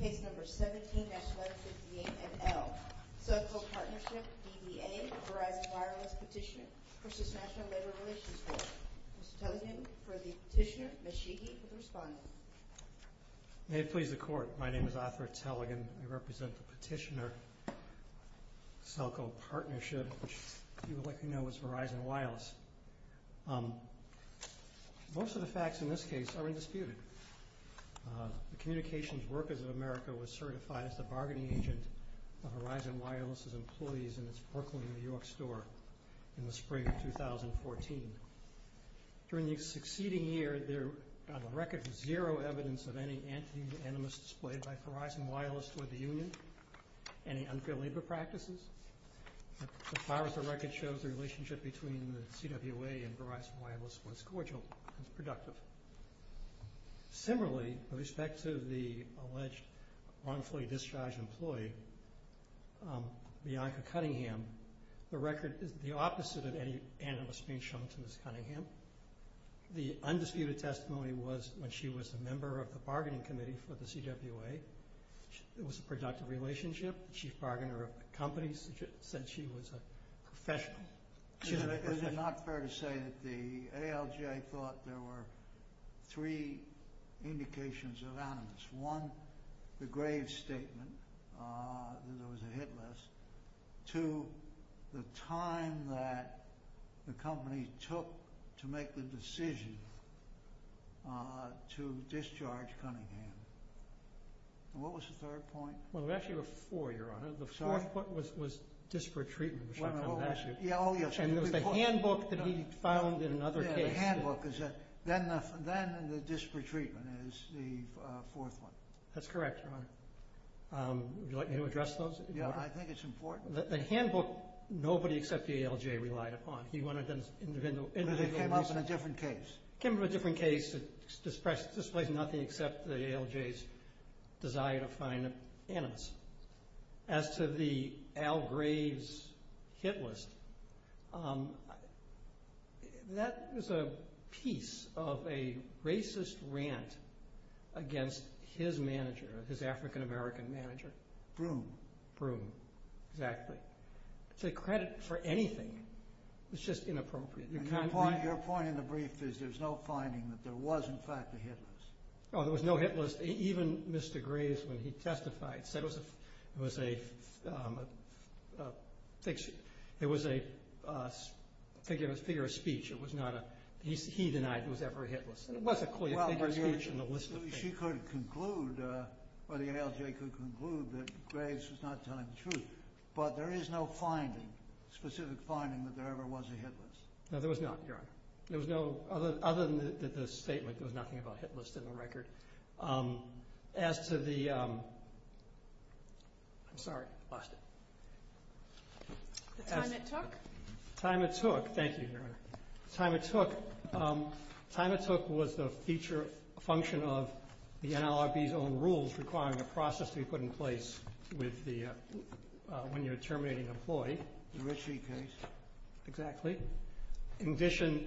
Case number 17-158NL. Celco Partnership v. DBA Verizon Wireless Petitioner v. National Labor Relations Court. Mr. Tellegen for the Petitioner, Ms. Sheehy for the Respondent. May it please the Court, my name is Arthur Tellegen. I represent the Petitioner-Celco Partnership, which you would likely know as Verizon Wireless. Most of the facts in this case are undisputed. The Communications Workers of America was certified as the bargaining agent of Verizon Wireless's employees in its Brooklyn, New York store in the spring of 2014. During the succeeding year, there on the record was zero evidence of any anti-anonymous displayed by Verizon Wireless toward the union, any unfair labor practices. So far as the record shows, the relationship between the CWA and Verizon Wireless was cordial and productive. Similarly, with respect to the alleged wrongfully discharged employee, Bianca Cunningham, the record is the opposite of any anonymous being shown to Ms. Cunningham. The undisputed testimony was when she was a member of the bargaining committee for the CWA. It was a productive relationship. The chief bargainer of the company said she was a professional. What was the third point? Well, there were actually four, Your Honor. The fourth point was disparate treatment. Oh, yes. And it was the handbook that he found in another case. Yes, the handbook. Then the disparate treatment is the fourth one. That's correct, Your Honor. Would you like me to address those? Yes, I think it's important. The handbook, nobody except the ALJ relied upon. But it came up in a different case. It came up in a different case. It displays nothing except the ALJ's desire to find anonymous. As to the Al Graves hit list, that was a piece of a racist rant against his manager, his African-American manager. Broom. Broom, exactly. It's a credit for anything. It's just inappropriate. Your point in the brief is there's no finding that there was, in fact, a hit list. Oh, there was no hit list. Even Mr. Graves, when he testified, said it was a figure of speech. It was not a – he denied it was ever a hit list. It was a figure of speech in the list of things. She could conclude, or the ALJ could conclude, that Graves was not telling the truth. But there is no finding, specific finding, that there ever was a hit list. No, there was not, Your Honor. There was no – other than the statement, there was nothing about a hit list in the record. As to the – I'm sorry, lost it. The time it took? The time it took. Thank you, Your Honor. The time it took. The time it took was the feature function of the NLRB's own rules requiring a process to be put in place with the – when you're terminating an employee. The Ritchie case. Exactly. In addition,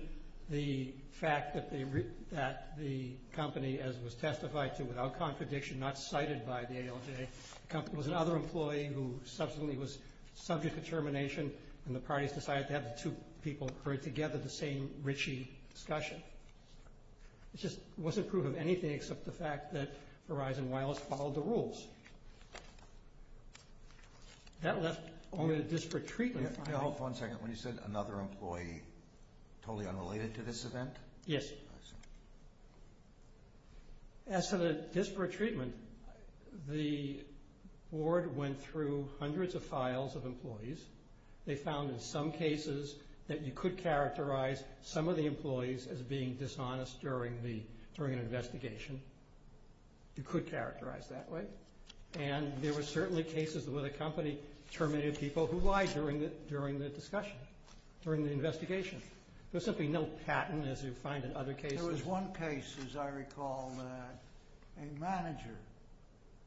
the fact that the company, as was testified to without contradiction, not cited by the ALJ, was another employee who subsequently was subject to termination, and the parties decided to have the two people bring together the same Ritchie discussion. It just wasn't proof of anything except the fact that Verizon Wireless followed the rules. That left only a disparate treatment finding. Now, hold for one second. When you said another employee, totally unrelated to this event? Yes. I see. As to the disparate treatment, the board went through hundreds of files of employees. They found in some cases that you could characterize some of the employees as being dishonest during an investigation. You could characterize that way. And there were certainly cases where the company terminated people. Why? During the discussion, during the investigation. There's simply no patent, as you find in other cases. There was one case, as I recall, that a manager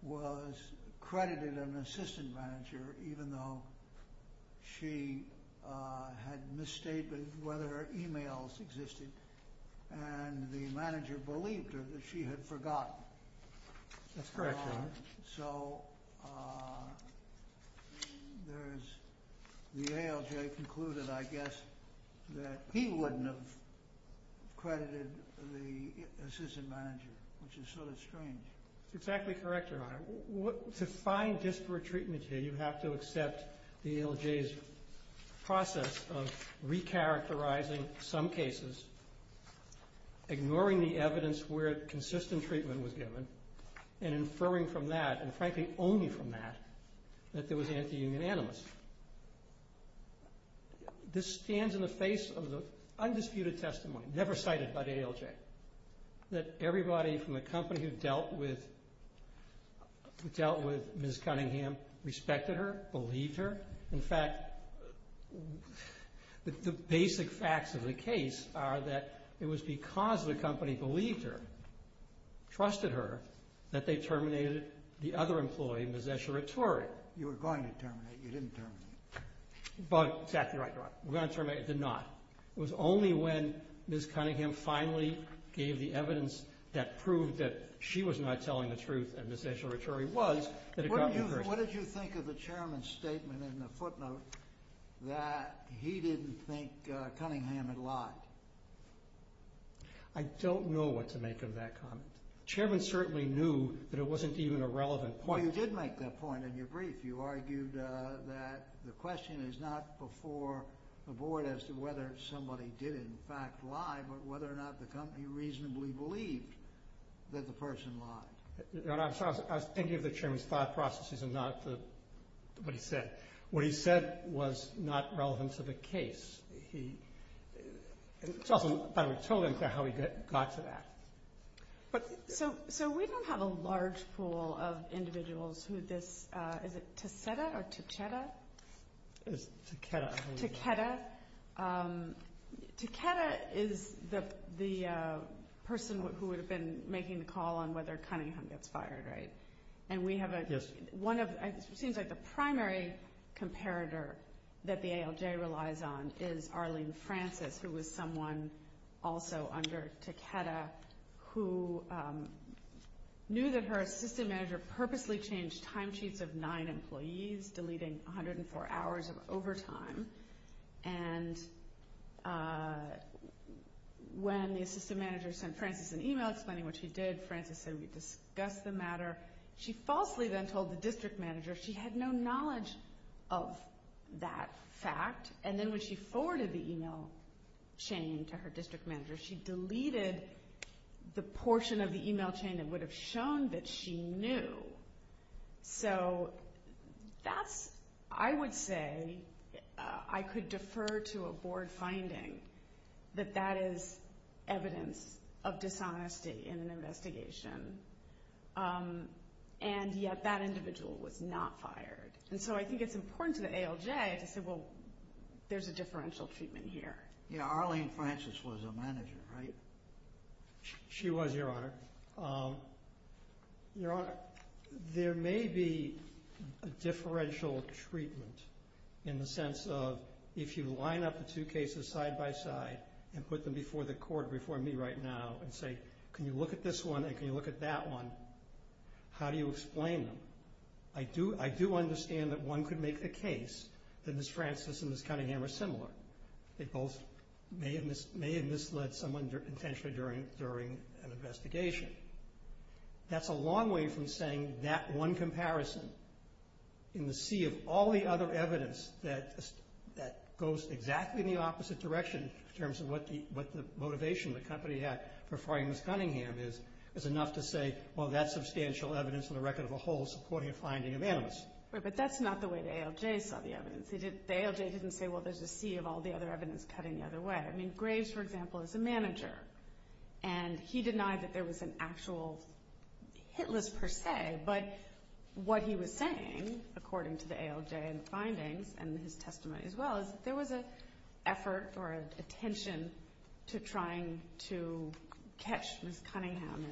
was credited an assistant manager, even though she had misstated whether her e-mails existed, and the manager believed her that she had forgotten. That's correct. So the ALJ concluded, I guess, that he wouldn't have credited the assistant manager, which is sort of strange. Exactly correct, Your Honor. To find disparate treatment here, you have to accept the ALJ's process of recharacterizing some cases, ignoring the evidence where consistent treatment was given, and inferring from that, and frankly only from that, that there was anti-union animus. This stands in the face of the undisputed testimony, never cited by the ALJ, that everybody from the company who dealt with Ms. Cunningham respected her, believed her. In fact, the basic facts of the case are that it was because the company believed her, trusted her, that they terminated the other employee, Ms. Escheritore. You were going to terminate her, you didn't terminate her. Exactly right, Your Honor. We were going to terminate her. We did not. It was only when Ms. Cunningham finally gave the evidence that proved that she was not telling the truth, and Ms. Escheritore was, that it got to her. What did you think of the Chairman's statement in the footnote that he didn't think Cunningham had lied? I don't know what to make of that comment. The Chairman certainly knew that it wasn't even a relevant point. Well, you did make that point in your brief. You argued that the question is not before the Board as to whether somebody did in fact lie, but whether or not the company reasonably believed that the person lied. Your Honor, I was thinking of the Chairman's thought processes and not what he said. What he said was not relevant to the case. It's also about how we told him how he got to that. So we don't have a large pool of individuals who this, is it Ticetta or Tichetta? It's Tichetta. Tichetta. Tichetta is the person who would have been making the call on whether Cunningham gets fired, right? Yes. It seems like the primary comparator that the ALJ relies on is Arlene Francis, who was someone also under Ticetta who knew that her assistant manager purposely changed time sheets of nine employees, deleting 104 hours of overtime. And when the assistant manager sent Francis an email explaining what she did, Francis said, we discussed the matter. She falsely then told the district manager she had no knowledge of that fact. And then when she forwarded the email chain to her district manager, she deleted the portion of the email chain that would have shown that she knew. So that's, I would say, I could defer to a board finding that that is evidence of dishonesty in an investigation. And yet that individual was not fired. And so I think it's important to the ALJ to say, well, there's a differential treatment here. Yeah, Arlene Francis was a manager, right? She was, Your Honor. Your Honor, there may be a differential treatment in the sense of if you line up the two cases side by side and put them before the court before me right now and say, can you look at this one and can you look at that one, how do you explain them? I do understand that one could make the case that Ms. Francis and Ms. Cunningham are similar. They both may have misled someone intentionally during an investigation. That's a long way from saying that one comparison in the sea of all the other evidence that goes exactly in the opposite direction in terms of what the motivation of the company for firing Ms. Cunningham is, is enough to say, well, that's substantial evidence on the record of a whole supporting a finding of animus. But that's not the way the ALJ saw the evidence. The ALJ didn't say, well, there's a sea of all the other evidence cutting the other way. I mean, Graves, for example, is a manager, and he denied that there was an actual hit list per se, but what he was saying, according to the ALJ and the findings and his testimony as well, is that there was an effort or an attention to trying to catch Ms. Cunningham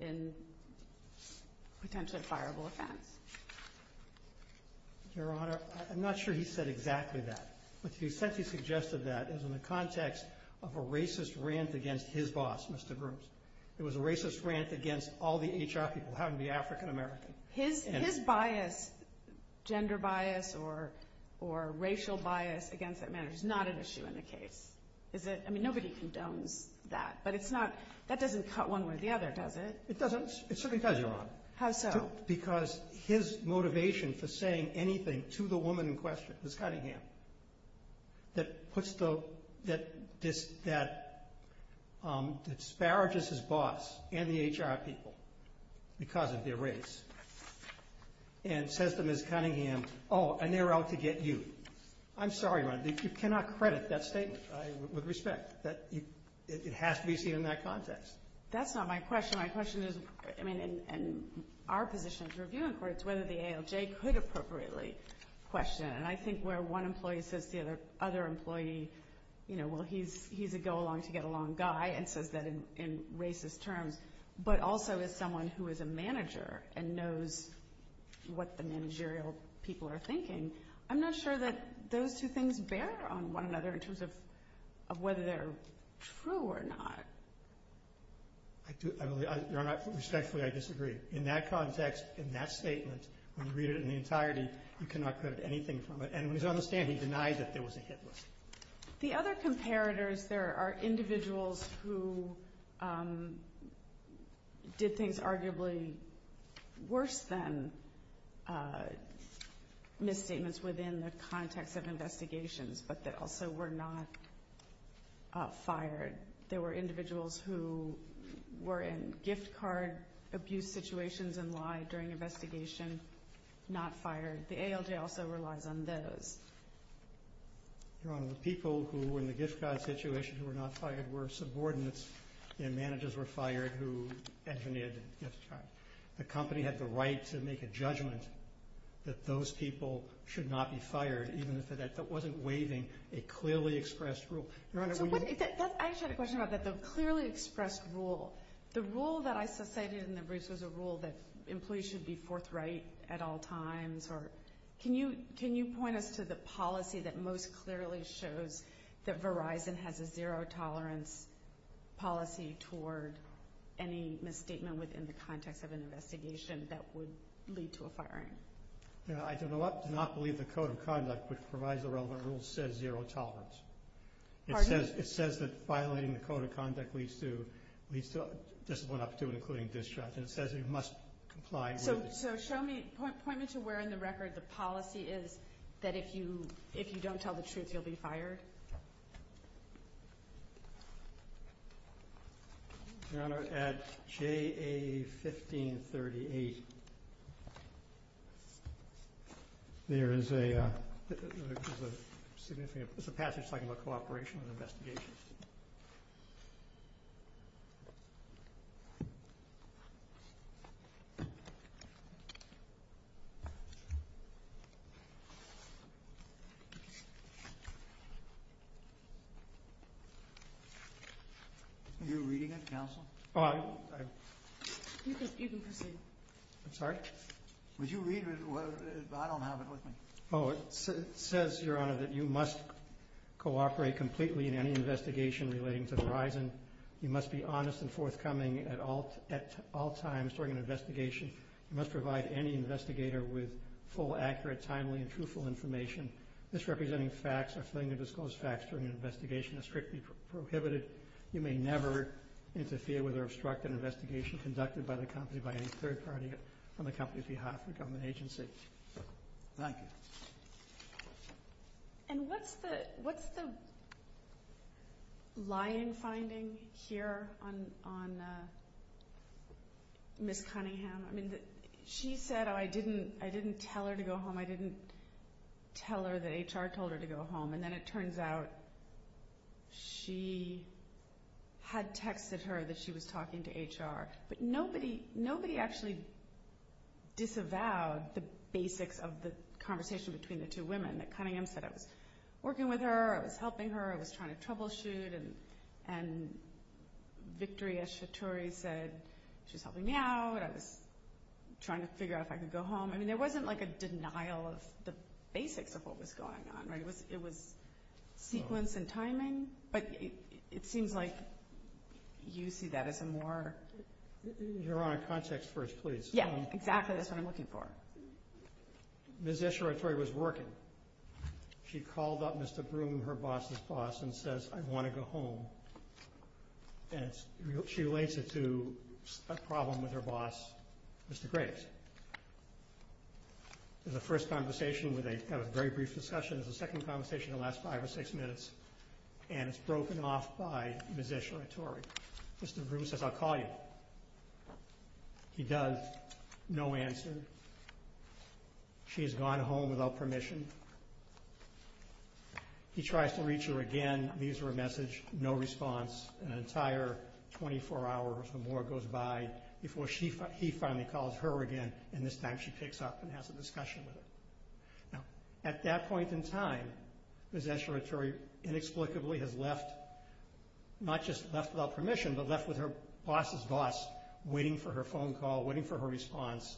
in potentially a fireable offense. Your Honor, I'm not sure he said exactly that. But he said he suggested that in the context of a racist rant against his boss, Mr. Groves. It was a racist rant against all the HR people, having to be African American. His bias, gender bias or racial bias against that manager is not an issue in the case. Is it? I mean, nobody condones that, but it's not, that doesn't cut one way or the other, does it? It doesn't. It certainly does, Your Honor. How so? Because his motivation for saying anything to the woman in question, Ms. Cunningham, that puts the, that disparages his boss and the HR people because of their race, and says to Ms. Cunningham, oh, and they're out to get you. I'm sorry, Your Honor, you cannot credit that statement with respect. It has to be seen in that context. That's not my question. My question is, I mean, in our position as a review in court, it's whether the ALJ could appropriately question. And I think where one employee says to the other employee, you know, well, he's a go-along-to-get-along guy and says that in racist terms, but also as someone who is a manager and knows what the managerial people are thinking, I'm not sure that those two things bear on one another in terms of whether they're true or not. Your Honor, respectfully, I disagree. In that context, in that statement, when you read it in the entirety, you cannot credit anything from it. And it's my understanding he denied that there was a hit list. The other comparators, there are individuals who did things arguably worse than misstatements within the context of investigations, but that also were not fired. There were individuals who were in gift card abuse situations and lied during investigation, not fired. The ALJ also relies on those. Your Honor, the people who were in the gift card situation who were not fired were subordinates and managers were fired who engineered the gift card. The company had the right to make a judgment that those people should not be fired, even if it wasn't waiving a clearly expressed rule. Your Honor, when you— I just had a question about the clearly expressed rule. The rule that I cited in the briefs was a rule that employees should be forthright at all times. Can you point us to the policy that most clearly shows that Verizon has a zero-tolerance policy toward any misstatement within the context of an investigation that would lead to a firing? Your Honor, I do not believe the Code of Conduct, which provides the relevant rules, says zero-tolerance. Pardon? It says that violating the Code of Conduct leads to discipline up to and including discharge, and it says you must comply with it. So show me—point me to where in the record the policy is that if you don't tell the truth, you'll be fired. Your Honor, at JA 1538, there is a significant— Are you reading it, Counsel? You can proceed. I'm sorry? Would you read it? I don't have it with me. Oh, it says, Your Honor, that you must cooperate completely in any investigation relating to Verizon. You must be honest and forthcoming at all times during an investigation. You must provide any investigator with full, accurate, timely, and truthful information. Misrepresenting facts or failing to disclose facts during an investigation is strictly prohibited. You may never interfere with or obstruct an investigation conducted by the company by any third party on the company's behalf or government agency. Thank you. And what's the lying finding here on Ms. Cunningham? I mean, she said, oh, I didn't tell her to go home. I didn't tell her that HR told her to go home. And then it turns out she had texted her that she was talking to HR. But nobody actually disavowed the basics of the conversation between the two women. Cunningham said, I was working with her. I was helping her. I was trying to troubleshoot. And Victoria Shatori said she was helping me out. I was trying to figure out if I could go home. I mean, there wasn't like a denial of the basics of what was going on. It was sequence and timing. But it seems like you see that as a more – Your Honor, context first, please. Yeah, exactly. That's what I'm looking for. Ms. S. Shatori was working. She called up Mr. Broom, her boss's boss, and says, I want to go home. And she relates it to a problem with her boss, Mr. Graves. It was the first conversation where they had a very brief discussion. It was the second conversation in the last five or six minutes. And it's broken off by Ms. S. Shatori. Mr. Broom says, I'll call you. He does. No answer. She has gone home without permission. He tries to reach her again. Leaves her a message. No response. An entire 24 hours or more goes by before he finally calls her again, and this time she picks up and has a discussion with him. Now, at that point in time, Ms. S. Shatori inexplicably has left, not just left without permission, but left with her boss's boss, waiting for her phone call, waiting for her response,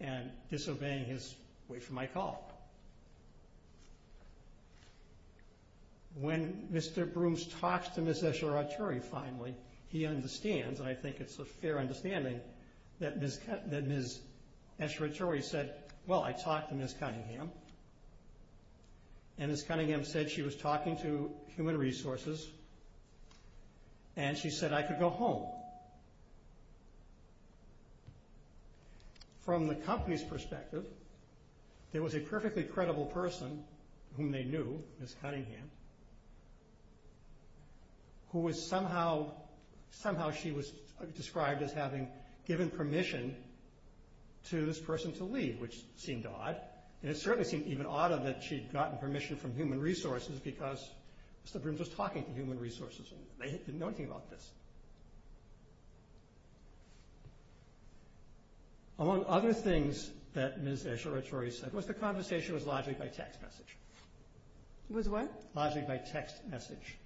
and disobeying his wait for my call. When Mr. Broom talks to Ms. S. Shatori finally, he understands, and I think it's a fair understanding, that Ms. S. Shatori said, well, I talked to Ms. Cunningham, and Ms. Cunningham said she was talking to human resources, and she said I could go home. From the company's perspective, there was a perfectly credible person, whom they knew, Ms. Cunningham, who was somehow, somehow she was described as having given permission to this person to leave, which seemed odd, and it certainly seemed even odder that she'd gotten permission from human resources because Mr. Brooms was talking to human resources, and they didn't know anything about this. Among other things that Ms. S. Shatori said was the conversation was largely by text message. It was what? Largely by text message.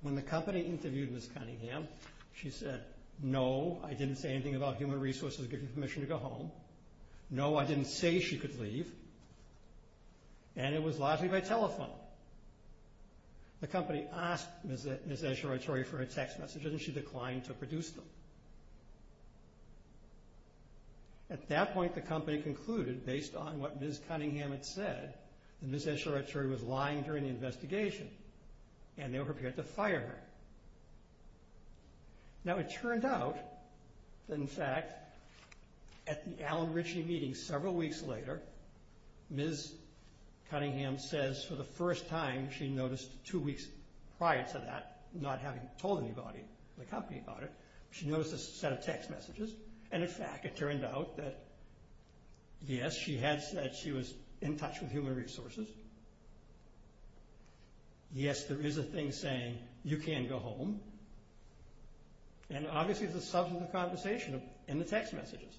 When the company interviewed Ms. Cunningham, she said, no, I didn't say anything about human resources giving permission to go home, no, I didn't say she could leave, and it was largely by telephone. The company asked Ms. S. Shatori for her text messages, and she declined to produce them. At that point, the company concluded, based on what Ms. Cunningham had said, that Ms. S. Shatori was lying during the investigation, and they were prepared to fire her. Now, it turned out that, in fact, at the Alan Ritchie meeting several weeks later, Ms. Cunningham says for the first time she noticed two weeks prior to that, not having told anybody in the company about it, she noticed a set of text messages, and, in fact, it turned out that, yes, she had said she was in touch with human resources. Yes, there is a thing saying, you can't go home. And, obviously, there's a substantive conversation in the text messages.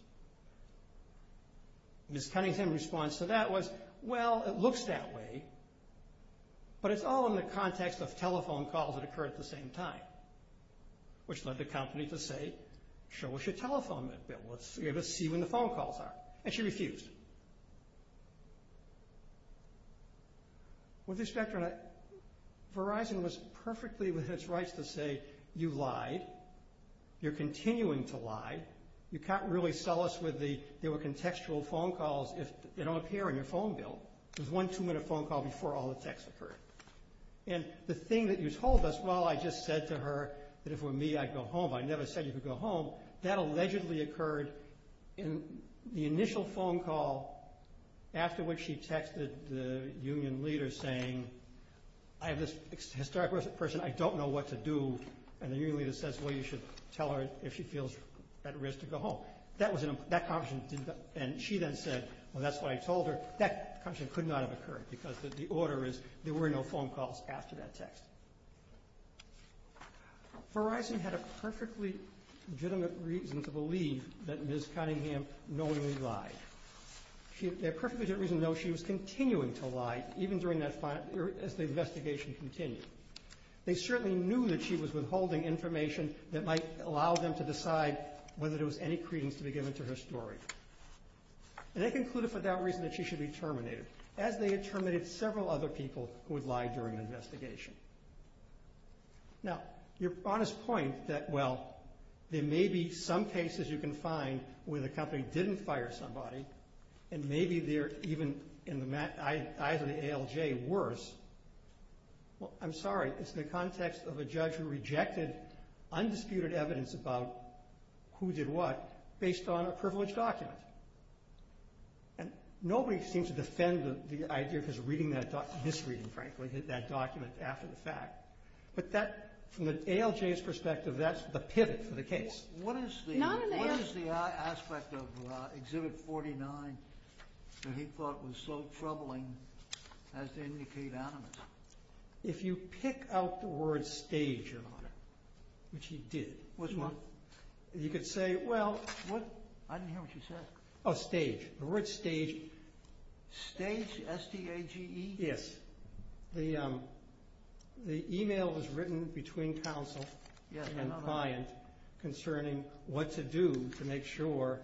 Ms. Cunningham's response to that was, well, it looks that way, but it's all in the context of telephone calls that occur at the same time, which led the company to say, show us your telephone, let's see when the phone calls are, and she refused. With respect to that, Verizon was perfectly within its rights to say, you lied. You're continuing to lie. You can't really sell us with the contextual phone calls if they don't appear in your phone bill. There's one two-minute phone call before all the text occurred. And the thing that you told us, well, I just said to her that if it were me, I'd go home. I never said you could go home. That allegedly occurred in the initial phone call after which she texted the union leader saying, I have this historic person, I don't know what to do, and the union leader says, well, you should tell her if she feels at risk to go home. That conversation didn't, and she then said, well, that's what I told her. That conversation could not have occurred because the order is there were no phone calls after that text. Verizon had a perfectly legitimate reason to believe that Ms. Cunningham knowingly lied. They had a perfectly legitimate reason to know she was continuing to lie, even as the investigation continued. They certainly knew that she was withholding information that might allow them to decide whether there was any credence to be given to her story. And they concluded for that reason that she should be terminated, as they had terminated several other people who had lied during the investigation. Now, your honest point that, well, there may be some cases you can find where the company didn't fire somebody, and maybe they're even in the eyes of the ALJ worse, well, I'm sorry, it's in the context of a judge who rejected undisputed evidence about who did what based on a privileged document. And nobody seems to defend the idea of his misreading, frankly, that document after the fact. But that, from the ALJ's perspective, that's the pivot for the case. What is the aspect of Exhibit 49 that he thought was so troubling as to indicate animus? If you pick out the word stage, Your Honor, which he did. Which one? Well, you could say, well. I didn't hear what you said. Oh, stage. The word stage. Stage, S-T-A-G-E? Yes. The email was written between counsel and client concerning what to do to make sure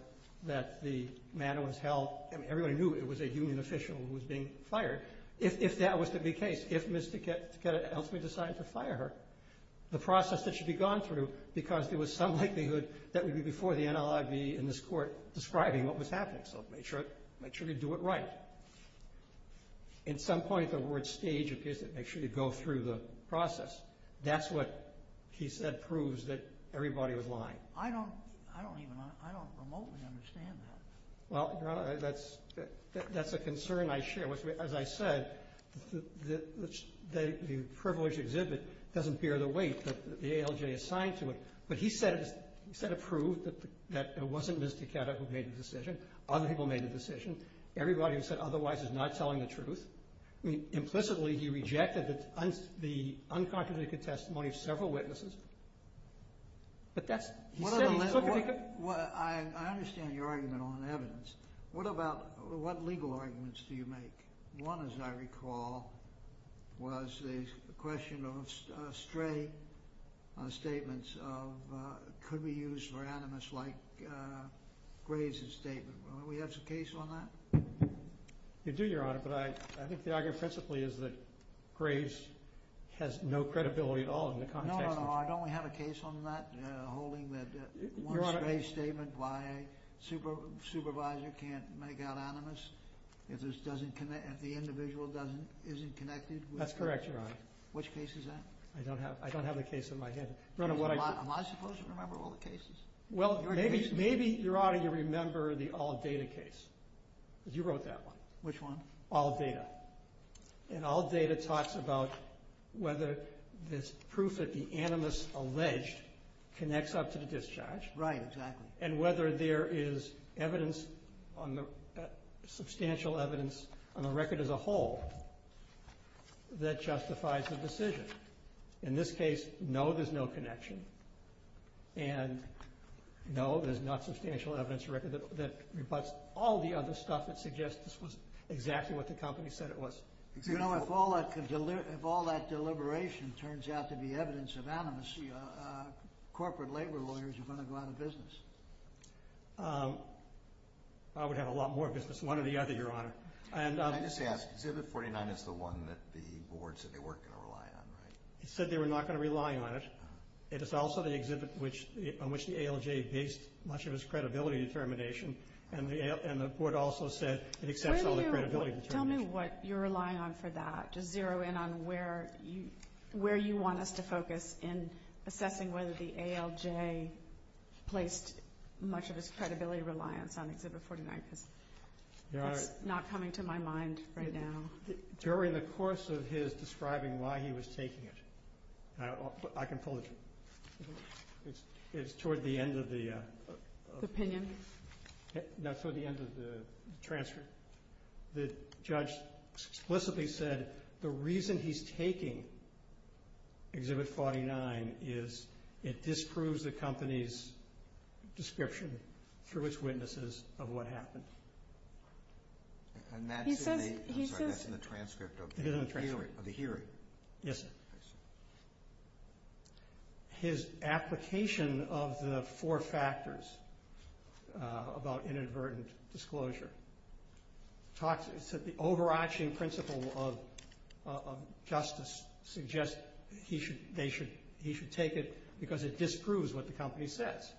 that the matter was held. I mean, everybody knew it was a union official who was being fired. If that was to be the case, if Ms. Takeda ultimately decided to fire her, the process that should be gone through because there was some likelihood that it would be before the NLIV in this court describing what was happening. So make sure you do it right. At some point, the word stage appears to make sure you go through the process. That's what he said proves that everybody was lying. I don't remotely understand that. Well, Your Honor, that's a concern I share. As I said, the privileged exhibit doesn't bear the weight that the ALJ assigned to it. But he said it proved that it wasn't Ms. Takeda who made the decision. Other people made the decision. Everybody who said otherwise is not telling the truth. Implicitly, he rejected the unconstitutional testimony of several witnesses. I understand your argument on evidence. What about what legal arguments do you make? One, as I recall, was the question of stray statements of could be used for animus like Graves' statement. Do we have some case on that? We do, Your Honor, but I think the argument principally is that Graves has no credibility at all in the context of the case. Your Honor, I don't have a case on that holding that one stray statement by a supervisor can't make out animus if the individual isn't connected. That's correct, Your Honor. Which case is that? I don't have a case in my head. Am I supposed to remember all the cases? Well, maybe, Your Honor, you remember the AllData case. You wrote that one. Which one? AllData. And AllData talks about whether there's proof that the animus alleged connects up to the discharge. Right, exactly. And whether there is evidence, substantial evidence, on the record as a whole that justifies the decision. In this case, no, there's no connection. And no, there's not substantial evidence that rebutts all the other stuff that suggests this was exactly what the company said it was. You know, if all that deliberation turns out to be evidence of animus, corporate labor lawyers are going to go out of business. I would have a lot more business than one or the other, Your Honor. Can I just ask, Exhibit 49 is the one that the board said they weren't going to rely on, right? It said they were not going to rely on it. It is also the exhibit on which the ALJ based much of its credibility determination, and the board also said it accepts all the credibility determination. Tell me what you're relying on for that. Just zero in on where you want us to focus in assessing whether the ALJ placed much of its credibility reliance on Exhibit 49. It's not coming to my mind right now. During the course of his describing why he was taking it, I can pull it to you. It's toward the end of the transfer. The judge explicitly said the reason he's taking Exhibit 49 is it disproves the company's description through its witnesses of what happened. And that's in the transcript of the hearing? Yes, sir. His application of the four factors about inadvertent disclosure. It said the overarching principle of justice suggests he should take it because it disproves what the company says.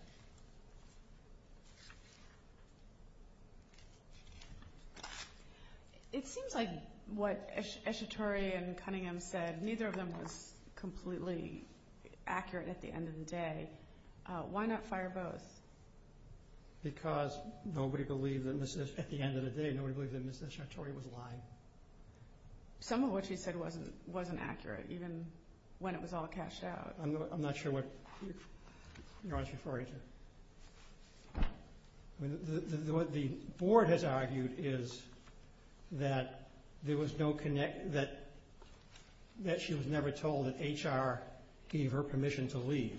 It seems like what Eshatori and Cunningham said, neither of them was completely accurate at the end of the day. Why not fire both? Because nobody believed at the end of the day, nobody believed that Ms. Eshatori was lying. Some of what she said wasn't accurate, even when it was all cashed out. I'm not sure what you're referring to. What the board has argued is that there was no connect, that she was never told that HR gave her permission to leave.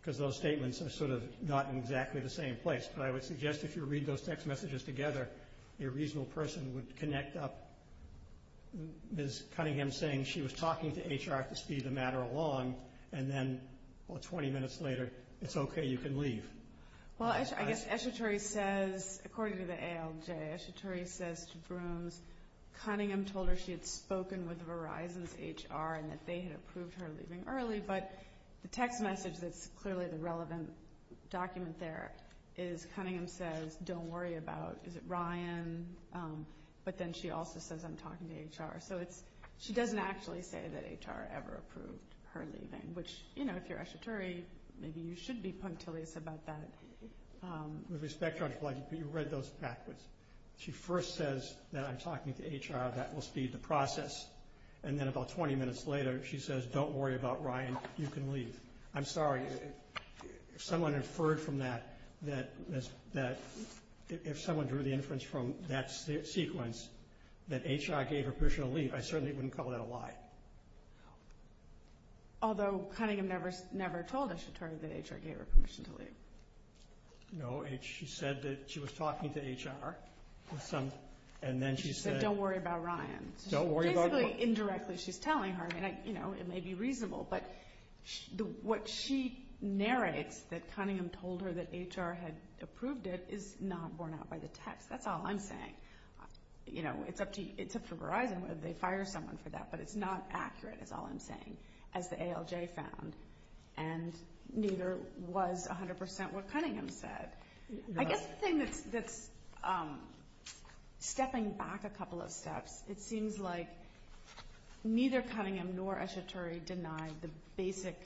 Because those statements are sort of not in exactly the same place. But I would suggest if you read those text messages together, a reasonable person would connect up Ms. Cunningham saying she was talking to HR to speed the matter along. And then, well, 20 minutes later, it's okay, you can leave. Well, I guess Eshatori says, according to the ALJ, Eshatori says to Brooms, Cunningham told her she had spoken with Verizon's HR and that they had approved her leaving early. But the text message that's clearly the relevant document there is Cunningham says, don't worry about, is it Ryan? But then she also says, I'm talking to HR. So she doesn't actually say that HR ever approved her leaving. Which, you know, if you're Eshatori, maybe you should be punctilious about that. With respect, Judge Blankenship, you read those backwards. She first says that I'm talking to HR, that will speed the process. And then about 20 minutes later, she says, don't worry about Ryan, you can leave. I'm sorry, if someone inferred from that, if someone drew the inference from that sequence that HR gave her permission to leave, I certainly wouldn't call that a lie. Although Cunningham never told Eshatori that HR gave her permission to leave. No, she said that she was talking to HR. And then she said, don't worry about Ryan. Don't worry about Ryan. Indirectly, she's telling her. It may be reasonable. But what she narrates that Cunningham told her that HR had approved it is not borne out by the text. That's all I'm saying. You know, it's up to Verizon whether they fire someone for that. But it's not accurate is all I'm saying, as the ALJ found. And neither was 100% what Cunningham said. I guess the thing that's stepping back a couple of steps, it seems like neither Cunningham nor Eshatori denied the basic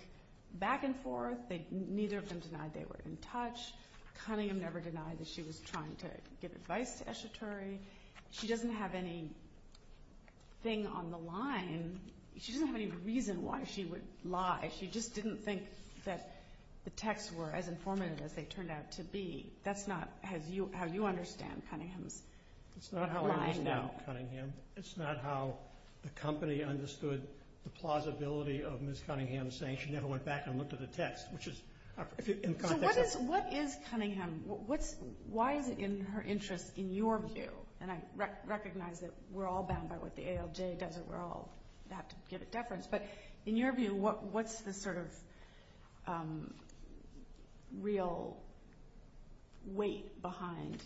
back and forth. Neither of them denied they were in touch. Cunningham never denied that she was trying to give advice to Eshatori. She doesn't have anything on the line. She doesn't have any reason why she would lie. She just didn't think that the texts were as informative as they turned out to be. That's not how you understand Cunningham's line. It's not how I understand Cunningham. It's not how the company understood the plausibility of Ms. Cunningham saying she never went back and looked at the text. So what is Cunningham? Why is it in her interest in your view? And I recognize that we're all bound by what the ALJ does and we all have to give it deference. But in your view, what's the sort of real weight behind the claim?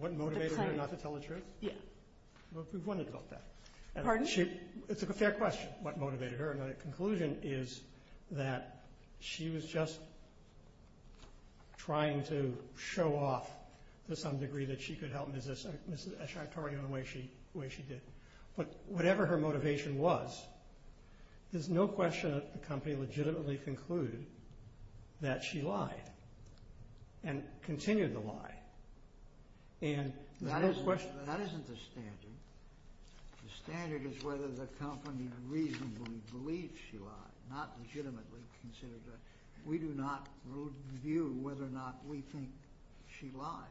What motivated her not to tell the truth? Yeah. We've wondered about that. Pardon? It's a fair question what motivated her. My conclusion is that she was just trying to show off to some degree that she could help Ms. Eshatori in the way she did. But whatever her motivation was, there's no question that the company legitimately concluded that she lied and continued the lie. That isn't the standard. The standard is whether the company reasonably believed she lied, not legitimately considered that. We do not view whether or not we think she lied.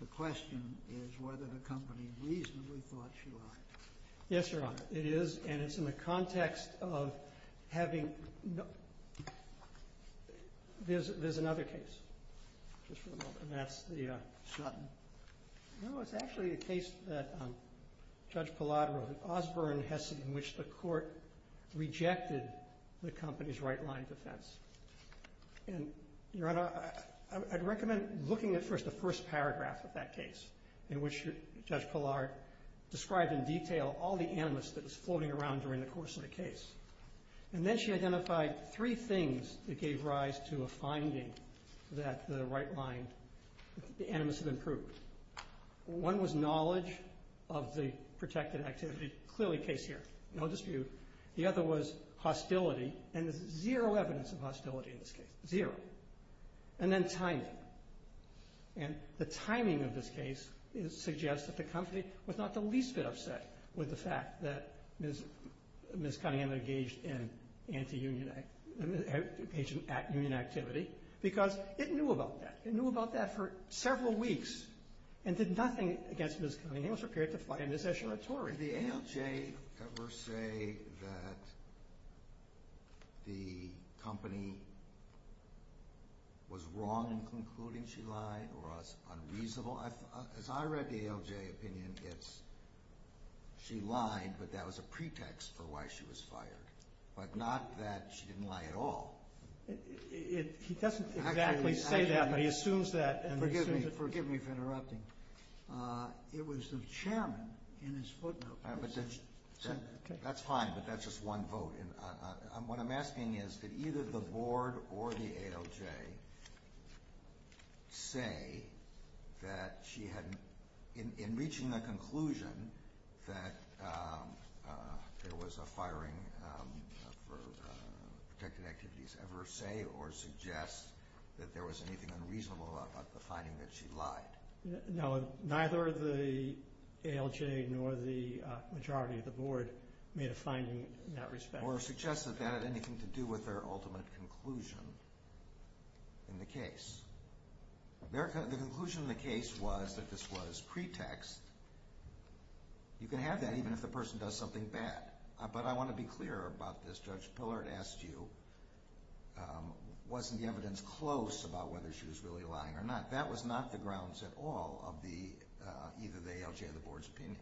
The question is whether the company reasonably thought she lied. Yes, Your Honor. It is, and it's in the context of having – there's another case. Just for a moment. And that's the – Sutton. No, it's actually a case that Judge Palladaro, Osborne has seen, in which the court rejected the company's right-line defense. And, Your Honor, I'd recommend looking at first the first paragraph of that case, in which Judge Palladaro described in detail all the animus that was floating around during the course of the case. And then she identified three things that gave rise to a finding that the right-line – the animus had improved. One was knowledge of the protected activity. Clearly, case here. No dispute. The other was hostility. And there's zero evidence of hostility in this case. Zero. And then timing. And the timing of this case suggests that the company was not the least bit upset with the fact that Ms. Cunningham engaged in anti-union activity because it knew about that. It knew about that for several weeks and did nothing against Ms. Cunningham. It was prepared to fight a mis-executory. Did the ALJ ever say that the company was wrong in concluding she lied or was unreasonable? As I read the ALJ opinion, it's she lied, but that was a pretext for why she was fired, but not that she didn't lie at all. He doesn't exactly say that, but he assumes that. Forgive me for interrupting. It was the chairman in his footnote that said that. That's fine, but that's just one vote. What I'm asking is did either the board or the ALJ say that she had – in reaching a conclusion that there was a firing for protected activities – ever say or suggest that there was anything unreasonable about the finding that she lied? No, neither the ALJ nor the majority of the board made a finding in that respect. Or suggested that had anything to do with their ultimate conclusion in the case. The conclusion of the case was that this was pretext. You can have that even if the person does something bad. But I want to be clear about this. Judge Pillard asked you, wasn't the evidence close about whether she was really lying or not? That was not the grounds at all of either the ALJ or the board's opinion.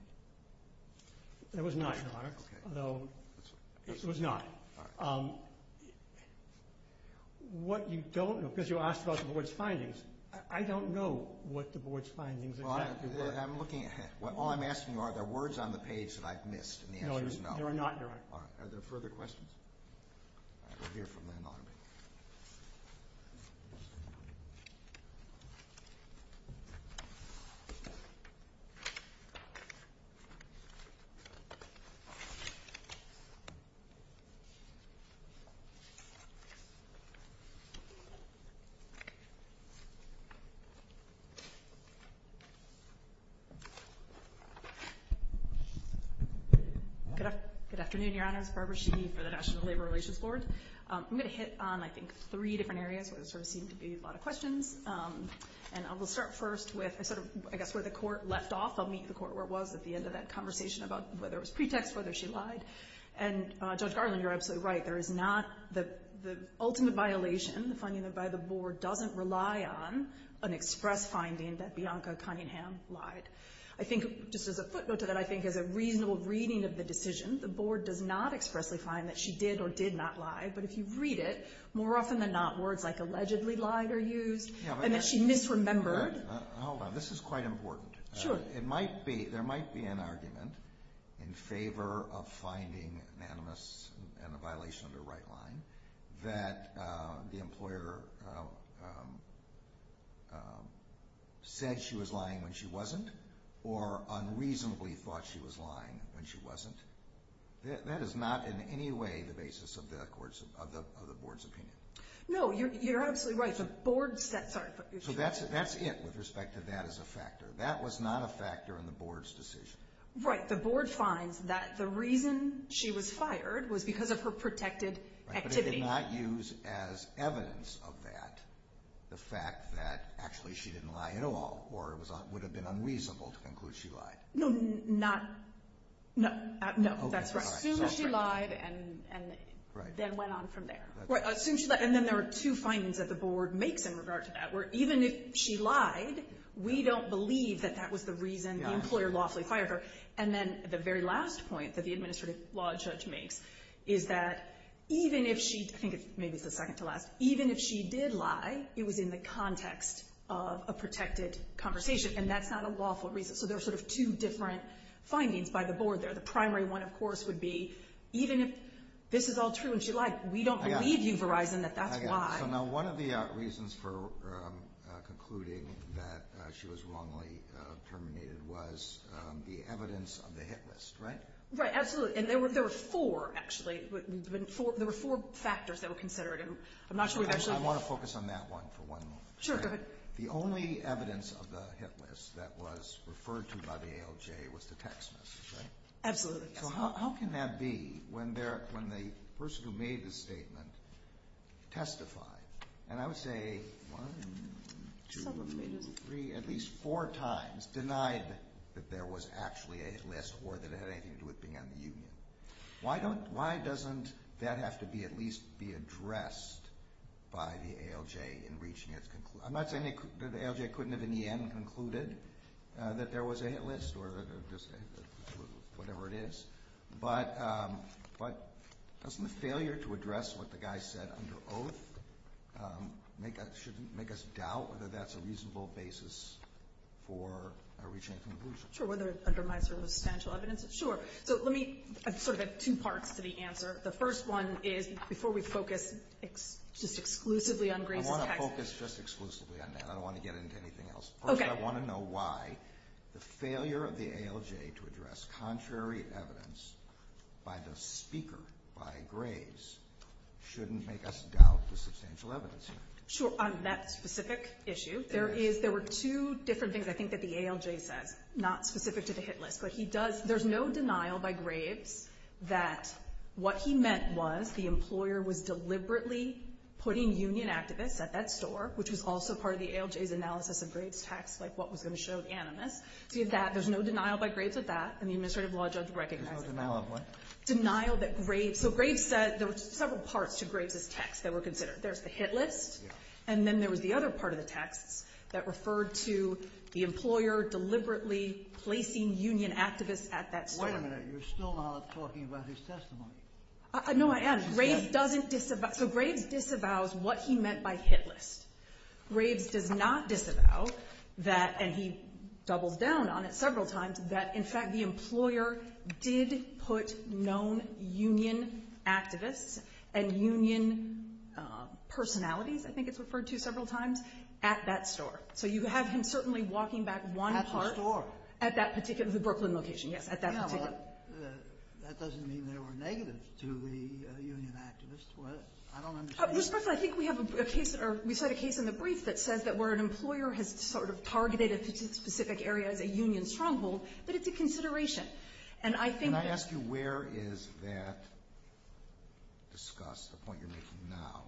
It was not, Your Honor. Okay. It was not. All right. What you don't – because you asked about the board's findings. I don't know what the board's findings exactly were. Well, I'm looking – all I'm asking you are, are there words on the page that I've missed and the answer is no. No, there are not, Your Honor. All right. Are there further questions? All right. We'll hear from them all in a minute. Good afternoon, Your Honors. Barbara Sheehy for the National Labor Relations Board. I'm going to hit on, I think, three different areas where there sort of seem to be a lot of questions. And I will start first with sort of, I guess, where the court left off. I'll meet with the court where it was at the end of that conversation about whether it was pretext, whether she lied. And, Judge Garland, you're absolutely right. There is not – the ultimate violation, the finding by the board, doesn't rely on an express finding that Bianca Cunningham lied. I think, just as a footnote to that, I think as a reasonable reading of the decision, the board does not expressly find that she did or did not lie. But if you read it, more often than not, words like allegedly lied are used and that she misremembered. Hold on. This is quite important. Sure. There might be an argument in favor of finding anonymous and a violation of the right line that the employer said she was lying when she wasn't or unreasonably thought she was lying when she wasn't. That is not in any way the basis of the board's opinion. No, you're absolutely right. So that's it with respect to that as a factor. That was not a factor in the board's decision. Right. The board finds that the reason she was fired was because of her protected activity. But it did not use as evidence of that the fact that actually she didn't lie at all or it would have been unreasonable to conclude she lied. No, that's right. Assume she lied and then went on from there. Right. Assume she lied and then there are two findings that the board makes in regard to that. Where even if she lied, we don't believe that that was the reason the employer lawfully fired her. And then the very last point that the administrative law judge makes is that even if she, I think maybe it's the second to last, even if she did lie, it was in the context of a protected conversation and that's not a lawful reason. So there are sort of two different findings by the board there. The primary one, of course, would be even if this is all true and she lied, we don't believe you, Verizon, that that's why. I got it. So now one of the reasons for concluding that she was wrongly terminated was the evidence of the hit list. Right? Right. Absolutely. And there were four, actually. There were four factors that were considered. I'm not sure we've actually. I want to focus on that one for one moment. Sure. Go ahead. The only evidence of the hit list that was referred to by the ALJ was the text message, right? Absolutely. So how can that be when the person who made the statement testified? And I would say one, two, three, at least four times denied that there was actually a hit list or that it had anything to do with being on the union. Why doesn't that have to at least be addressed by the ALJ in reaching its conclusion? I'm not saying that the ALJ couldn't have in the end concluded that there was a hit list or whatever it is, but doesn't the failure to address what the guy said under oath make us doubt whether that's a reasonable basis for reaching a conclusion? Sure. Whether it undermines her substantial evidence? Sure. So let me sort of add two parts to the answer. The first one is before we focus just exclusively on Grace's text. Before we focus just exclusively on that, I don't want to get into anything else. First, I want to know why the failure of the ALJ to address contrary evidence by the speaker, by Graves, shouldn't make us doubt the substantial evidence here. Sure. On that specific issue, there were two different things I think that the ALJ says, not specific to the hit list. There's no denial by Graves that what he meant was the employer was deliberately putting union activists at that store, which was also part of the ALJ's analysis of Graves' text, like what was going to show at Animus. So you have that. There's no denial by Graves of that, and the administrative law judge recognizes that. There's no denial of what? Denial that Graves – so Graves said – there were several parts to Graves' text that were considered. There's the hit list. Yeah. And then there was the other part of the text that referred to the employer deliberately placing union activists at that store. Wait a minute. You're still not talking about his testimony. No, I am. Graves doesn't disavow – so Graves disavows what he meant by hit list. Graves does not disavow that – and he doubles down on it several times – that in fact the employer did put known union activists and union personalities, I think it's referred to several times, at that store. So you have him certainly walking back one part. At the store. At that particular – the Brooklyn location, yes, at that particular – No, that doesn't mean there were negatives to the union activists. I don't understand. Just briefly, I think we have a case – or we cite a case in the brief that says that where an employer has sort of targeted a specific area as a union stronghold, that it's a consideration. And I think that – Can I ask you where is that discussed, the point you're making now,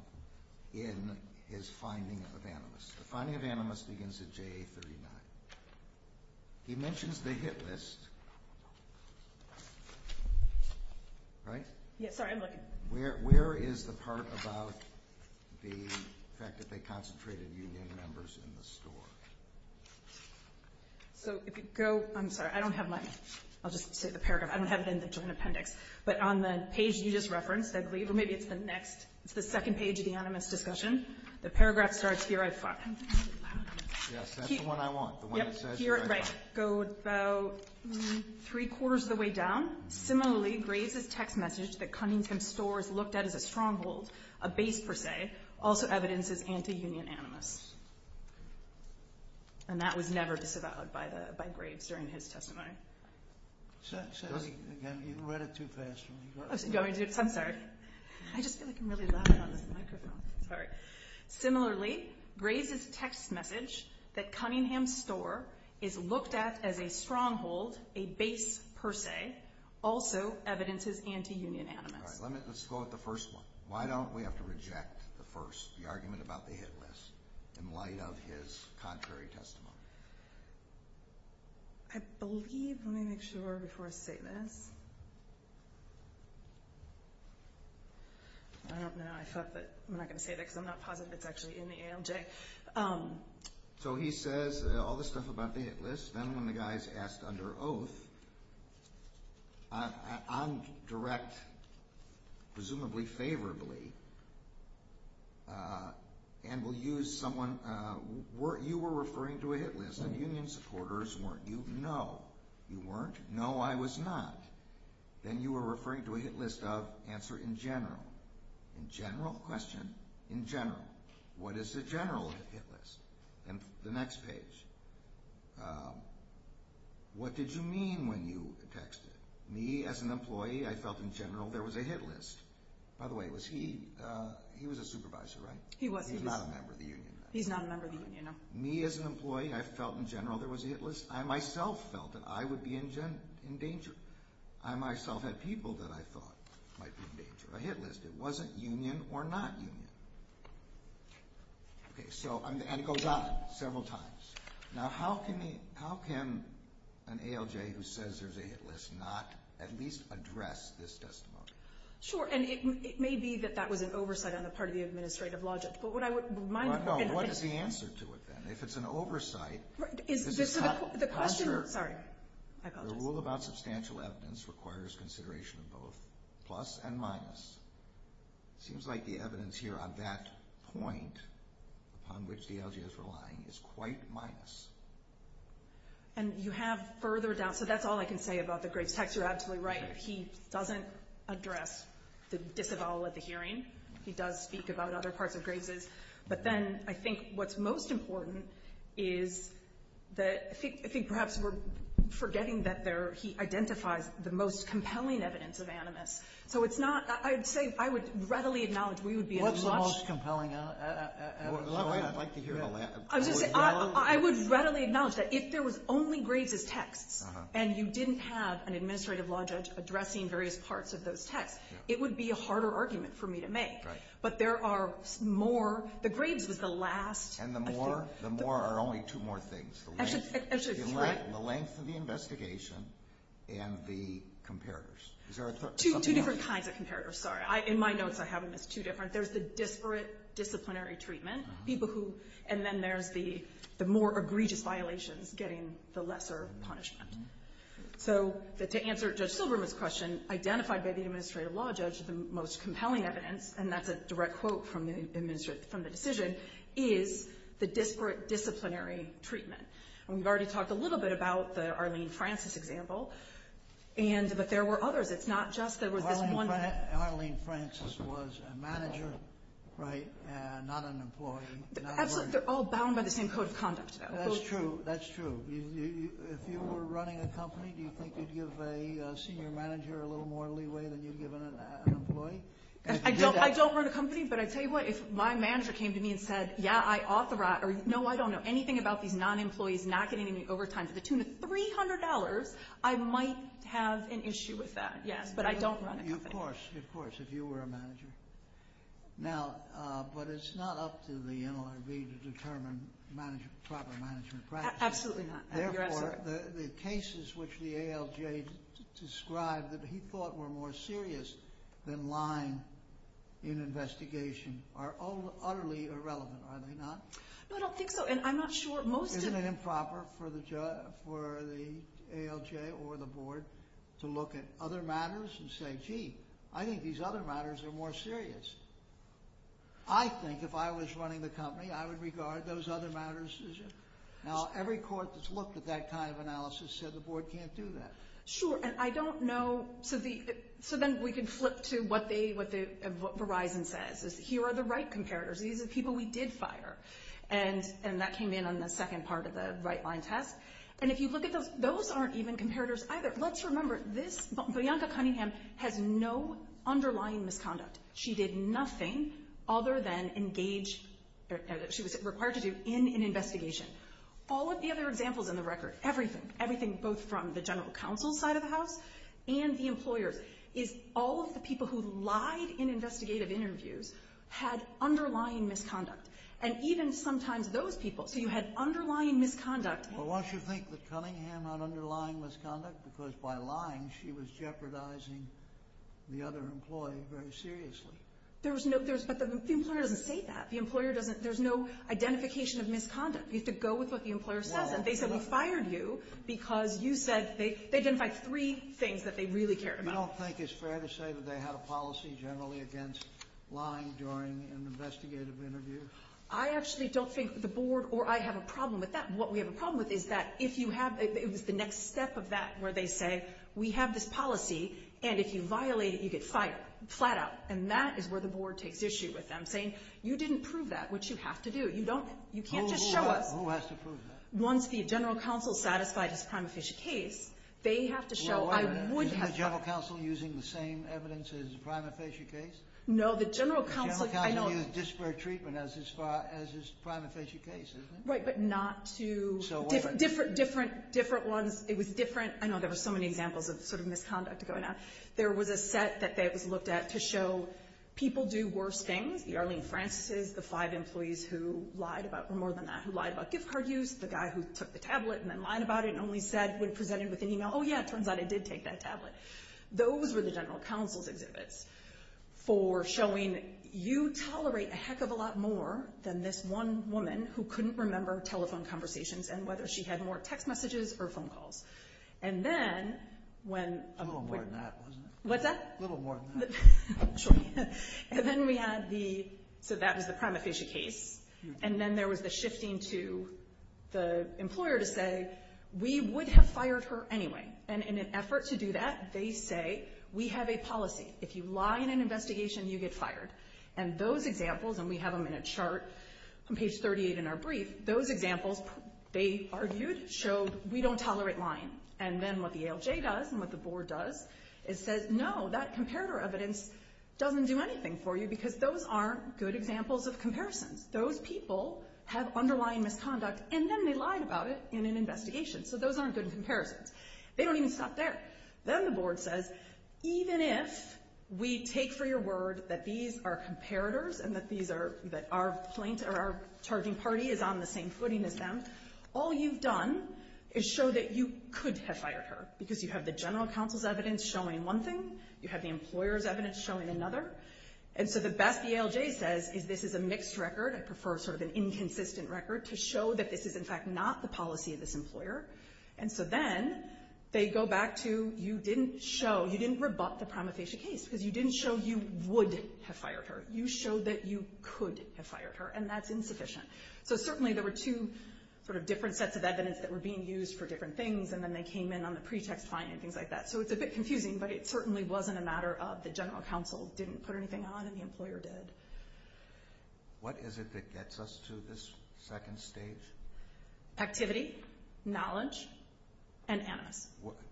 in his finding of animus? The finding of animus begins at JA 39. He mentions the hit list, right? Yeah, sorry, I'm looking. Where is the part about the fact that they concentrated union members in the store? So if you go – I'm sorry, I don't have my – I'll just say the paragraph. I don't have it in the joint appendix. But on the page you just referenced, I believe, or maybe it's the next – it's the second page of the animus discussion. The paragraph starts here, I thought. Yes, that's the one I want, the one that says here, I thought. Yep, here, right. Go about three-quarters of the way down. Similarly, Graves's text message that Cunningham's store is looked at as a stronghold, a base per se, also evidences anti-union animus. And that was never disavowed by Graves during his testimony. Say that again. You read it too fast for me. I'm sorry. I just feel like I'm really loud on this microphone. Similarly, Graves's text message that Cunningham's store is looked at as a stronghold, a base per se, also evidences anti-union animus. All right, let's go with the first one. Why don't we have to reject the first, the argument about the hit list, in light of his contrary testimony? I believe – let me make sure before I say this. I don't know. I thought that – I'm not going to say that because I'm not positive it's actually in the ALJ. So he says all this stuff about the hit list. Then when the guy is asked under oath, on direct, presumably favorably, and will use someone – you were referring to a hit list and union supporters weren't you? No, you weren't. No, I was not. Then you were referring to a hit list of answer in general. In general? Question. In general. What is the general hit list? And the next page. What did you mean when you texted? Me, as an employee, I felt in general there was a hit list. By the way, was he – he was a supervisor, right? He was. He's not a member of the union. He's not a member of the union, no. Me, as an employee, I felt in general there was a hit list. I myself felt that I would be in danger. I myself had people that I thought might be in danger. A hit list. It wasn't union or not union. And it goes on several times. Now how can an ALJ who says there's a hit list not at least address this testimony? Sure, and it may be that that was an oversight on the part of the administrative logic. But what I would – No, no, what is the answer to it then? If it's an oversight, the rule about substantial evidence requires consideration of both plus and minus. It seems like the evidence here on that point upon which the ALJ is relying is quite minus. And you have further doubt. So that's all I can say about the Graves text. You're absolutely right. He doesn't address the disavowal at the hearing. He does speak about other parts of Graves's. But then I think what's most important is that – I think perhaps we're forgetting that he identifies the most compelling evidence of animus. So it's not – I would say I would readily acknowledge we would be as much – What's the most compelling evidence? I would readily acknowledge that if there was only Graves's texts and you didn't have an administrative logic addressing various parts of those texts, it would be a harder argument for me to make. But there are more. The Graves was the last. And the more? The more are only two more things. The length of the investigation and the comparators. Two different kinds of comparators, sorry. In my notes, I haven't missed two different. There's the disparate disciplinary treatment, people who – and then there's the more egregious violations getting the lesser punishment. So to answer Judge Silberman's question, identified by the administrative law judge the most compelling evidence, and that's a direct quote from the decision, is the disparate disciplinary treatment. And we've already talked a little bit about the Arlene Francis example, but there were others. It's not just there was this one. Arlene Francis was a manager, right, and not an employee. Absolutely. They're all bound by the same code of conduct, though. That's true. That's true. If you were running a company, do you think you'd give a senior manager a little more leeway than you'd give an employee? I don't run a company, but I tell you what, if my manager came to me and said, yeah, I authorize, or no, I don't know anything about these non-employees not getting any overtime to the tune of $300, I might have an issue with that, yes. But I don't run a company. Of course, of course, if you were a manager. Now, but it's not up to the NLRB to determine proper management practices. Absolutely not. Therefore, the cases which the ALJ described that he thought were more serious than lying in investigation are all utterly irrelevant, are they not? No, I don't think so, and I'm not sure most of them. Isn't it improper for the ALJ or the board to look at other matters and say, gee, I think these other matters are more serious? I think if I was running the company, I would regard those other matters. Now, every court that's looked at that kind of analysis said the board can't do that. Sure, and I don't know. So then we can flip to what Verizon says. Here are the right comparators. These are people we did fire, and that came in on the second part of the right-line test. And if you look at those, those aren't even comparators either. Let's remember, Bianca Cunningham has no underlying misconduct. She did nothing other than engage, she was required to do, in an investigation. All of the other examples in the record, everything, everything both from the general counsel's side of the house and the employer's, is all of the people who lied in investigative interviews had underlying misconduct. And even sometimes those people, so you had underlying misconduct. Well, why don't you think that Cunningham had underlying misconduct? Because by lying, she was jeopardizing the other employee very seriously. But the employer doesn't say that. The employer doesn't, there's no identification of misconduct. You have to go with what the employer says. And they said we fired you because you said, they identified three things that they really cared about. You don't think it's fair to say that they had a policy generally against lying during an investigative interview? I actually don't think the board, or I have a problem with that. What we have a problem with is that if you have, it was the next step of that where they say, we have this policy, and if you violate it, you get fired, flat out. And that is where the board takes issue with them, saying, you didn't prove that, which you have to do. You don't, you can't just show us. Who has to prove that? Once the general counsel's satisfied his prima facie case, they have to show, I would have. Isn't the general counsel using the same evidence as the prima facie case? No, the general counsel, I don't. The general counsel used disparate treatment as far as his prima facie case, isn't it? Right, but not to different ones. It was different. I know there were so many examples of sort of misconduct going on. There was a set that was looked at to show people do worse things. The Arlene Francis's, the five employees who lied about more than that, who lied about gift card use, the guy who took the tablet and then lied about it and only said when presented with an email, oh yeah, it turns out I did take that tablet. Those were the general counsel's exhibits for showing you tolerate a heck of a lot more than this one woman who couldn't remember telephone conversations and whether she had more text messages or phone calls. And then when... A little more than that, wasn't it? What's that? A little more than that. Sure. And then we had the, so that was the prima facie case. And then there was the shifting to the employer to say, we would have fired her anyway. And in an effort to do that, they say, we have a policy. If you lie in an investigation, you get fired. And those examples, and we have them in a chart on page 38 in our brief, those examples, they argued, showed we don't tolerate lying. And then what the ALJ does and what the board does is says no, that comparator evidence doesn't do anything for you because those aren't good examples of comparisons. Those people have underlying misconduct and then they lied about it in an investigation. So those aren't good comparisons. They don't even stop there. Then the board says, even if we take for your word that these are comparators and that our charging party is on the same footing as them, all you've done is show that you could have fired her because you have the general counsel's evidence showing one thing. You have the employer's evidence showing another. And so the best the ALJ says is this is a mixed record. I prefer sort of an inconsistent record to show that this is in fact not the policy of this employer. And so then they go back to you didn't show, you didn't rebut the prima facie case because you didn't show you would have fired her. You showed that you could have fired her, and that's insufficient. So certainly there were two sort of different sets of evidence that were being used for different things, and then they came in on the pretext fine and things like that. So it's a bit confusing, but it certainly wasn't a matter of the general counsel didn't put anything on and the employer did. What is it that gets us to this second stage? Activity, knowledge, and animus.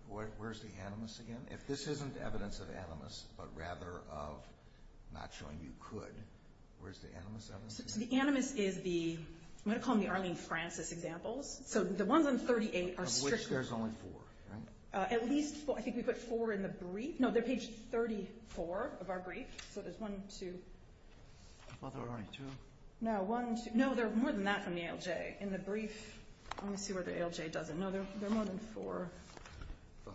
Where's the animus again? If this isn't evidence of animus but rather of not showing you could, where's the animus evidence again? So the animus is the, I'm going to call them the Arlene Francis examples. So the ones on 38 are strictly. Of which there's only four, right? At least four. I think we put four in the brief. No, they're page 34 of our brief. So there's one, two. Are there only two? No, one, two. No, there are more than that from the ALJ in the brief. Let me see where the ALJ does it. No, there are more than four. Five.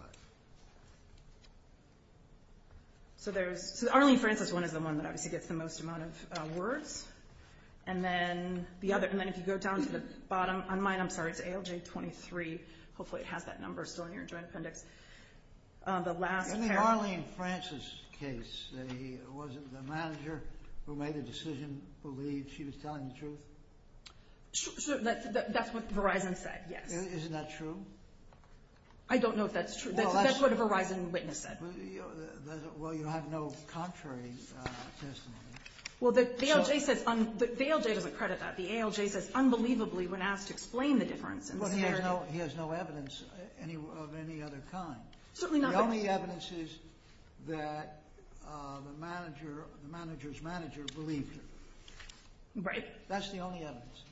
So the Arlene Francis one is the one that obviously gets the most amount of words. And then the other, and then if you go down to the bottom, on mine, I'm sorry, it's ALJ 23. Hopefully it has that number still in your joint appendix. The last pair. In the Arlene Francis case, wasn't the manager who made the decision believe she was telling the truth? That's what Verizon said, yes. Isn't that true? I don't know if that's true. That's what a Verizon witness said. Well, you have no contrary testimony. Well, the ALJ says, the ALJ doesn't credit that. The ALJ says unbelievably when asked to explain the difference. He has no evidence of any other kind. Certainly not. The only evidence is that the manager, the manager's manager believed her. Right. That's the only evidence.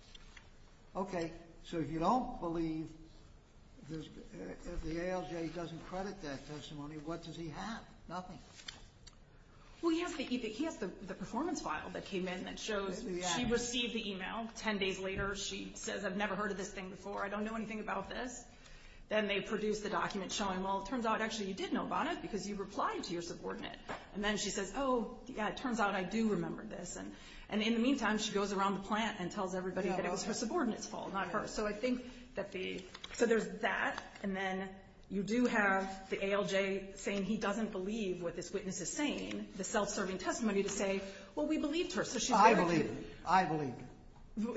Okay, so if you don't believe, if the ALJ doesn't credit that testimony, what does he have? Nothing. Well, he has the performance file that came in that shows she received the email. Ten days later, she says, I've never heard of this thing before. I don't know anything about this. Then they produce the document showing, well, it turns out, actually, you did know about it because you replied to your subordinate. And then she says, oh, yeah, it turns out I do remember this. And in the meantime, she goes around the plant and tells everybody that it was her subordinate's fault, not hers. So I think that the, so there's that. And then you do have the ALJ saying he doesn't believe what this witness is saying, the self-serving testimony to say, well, we believed her. So she's very clear. I believe her.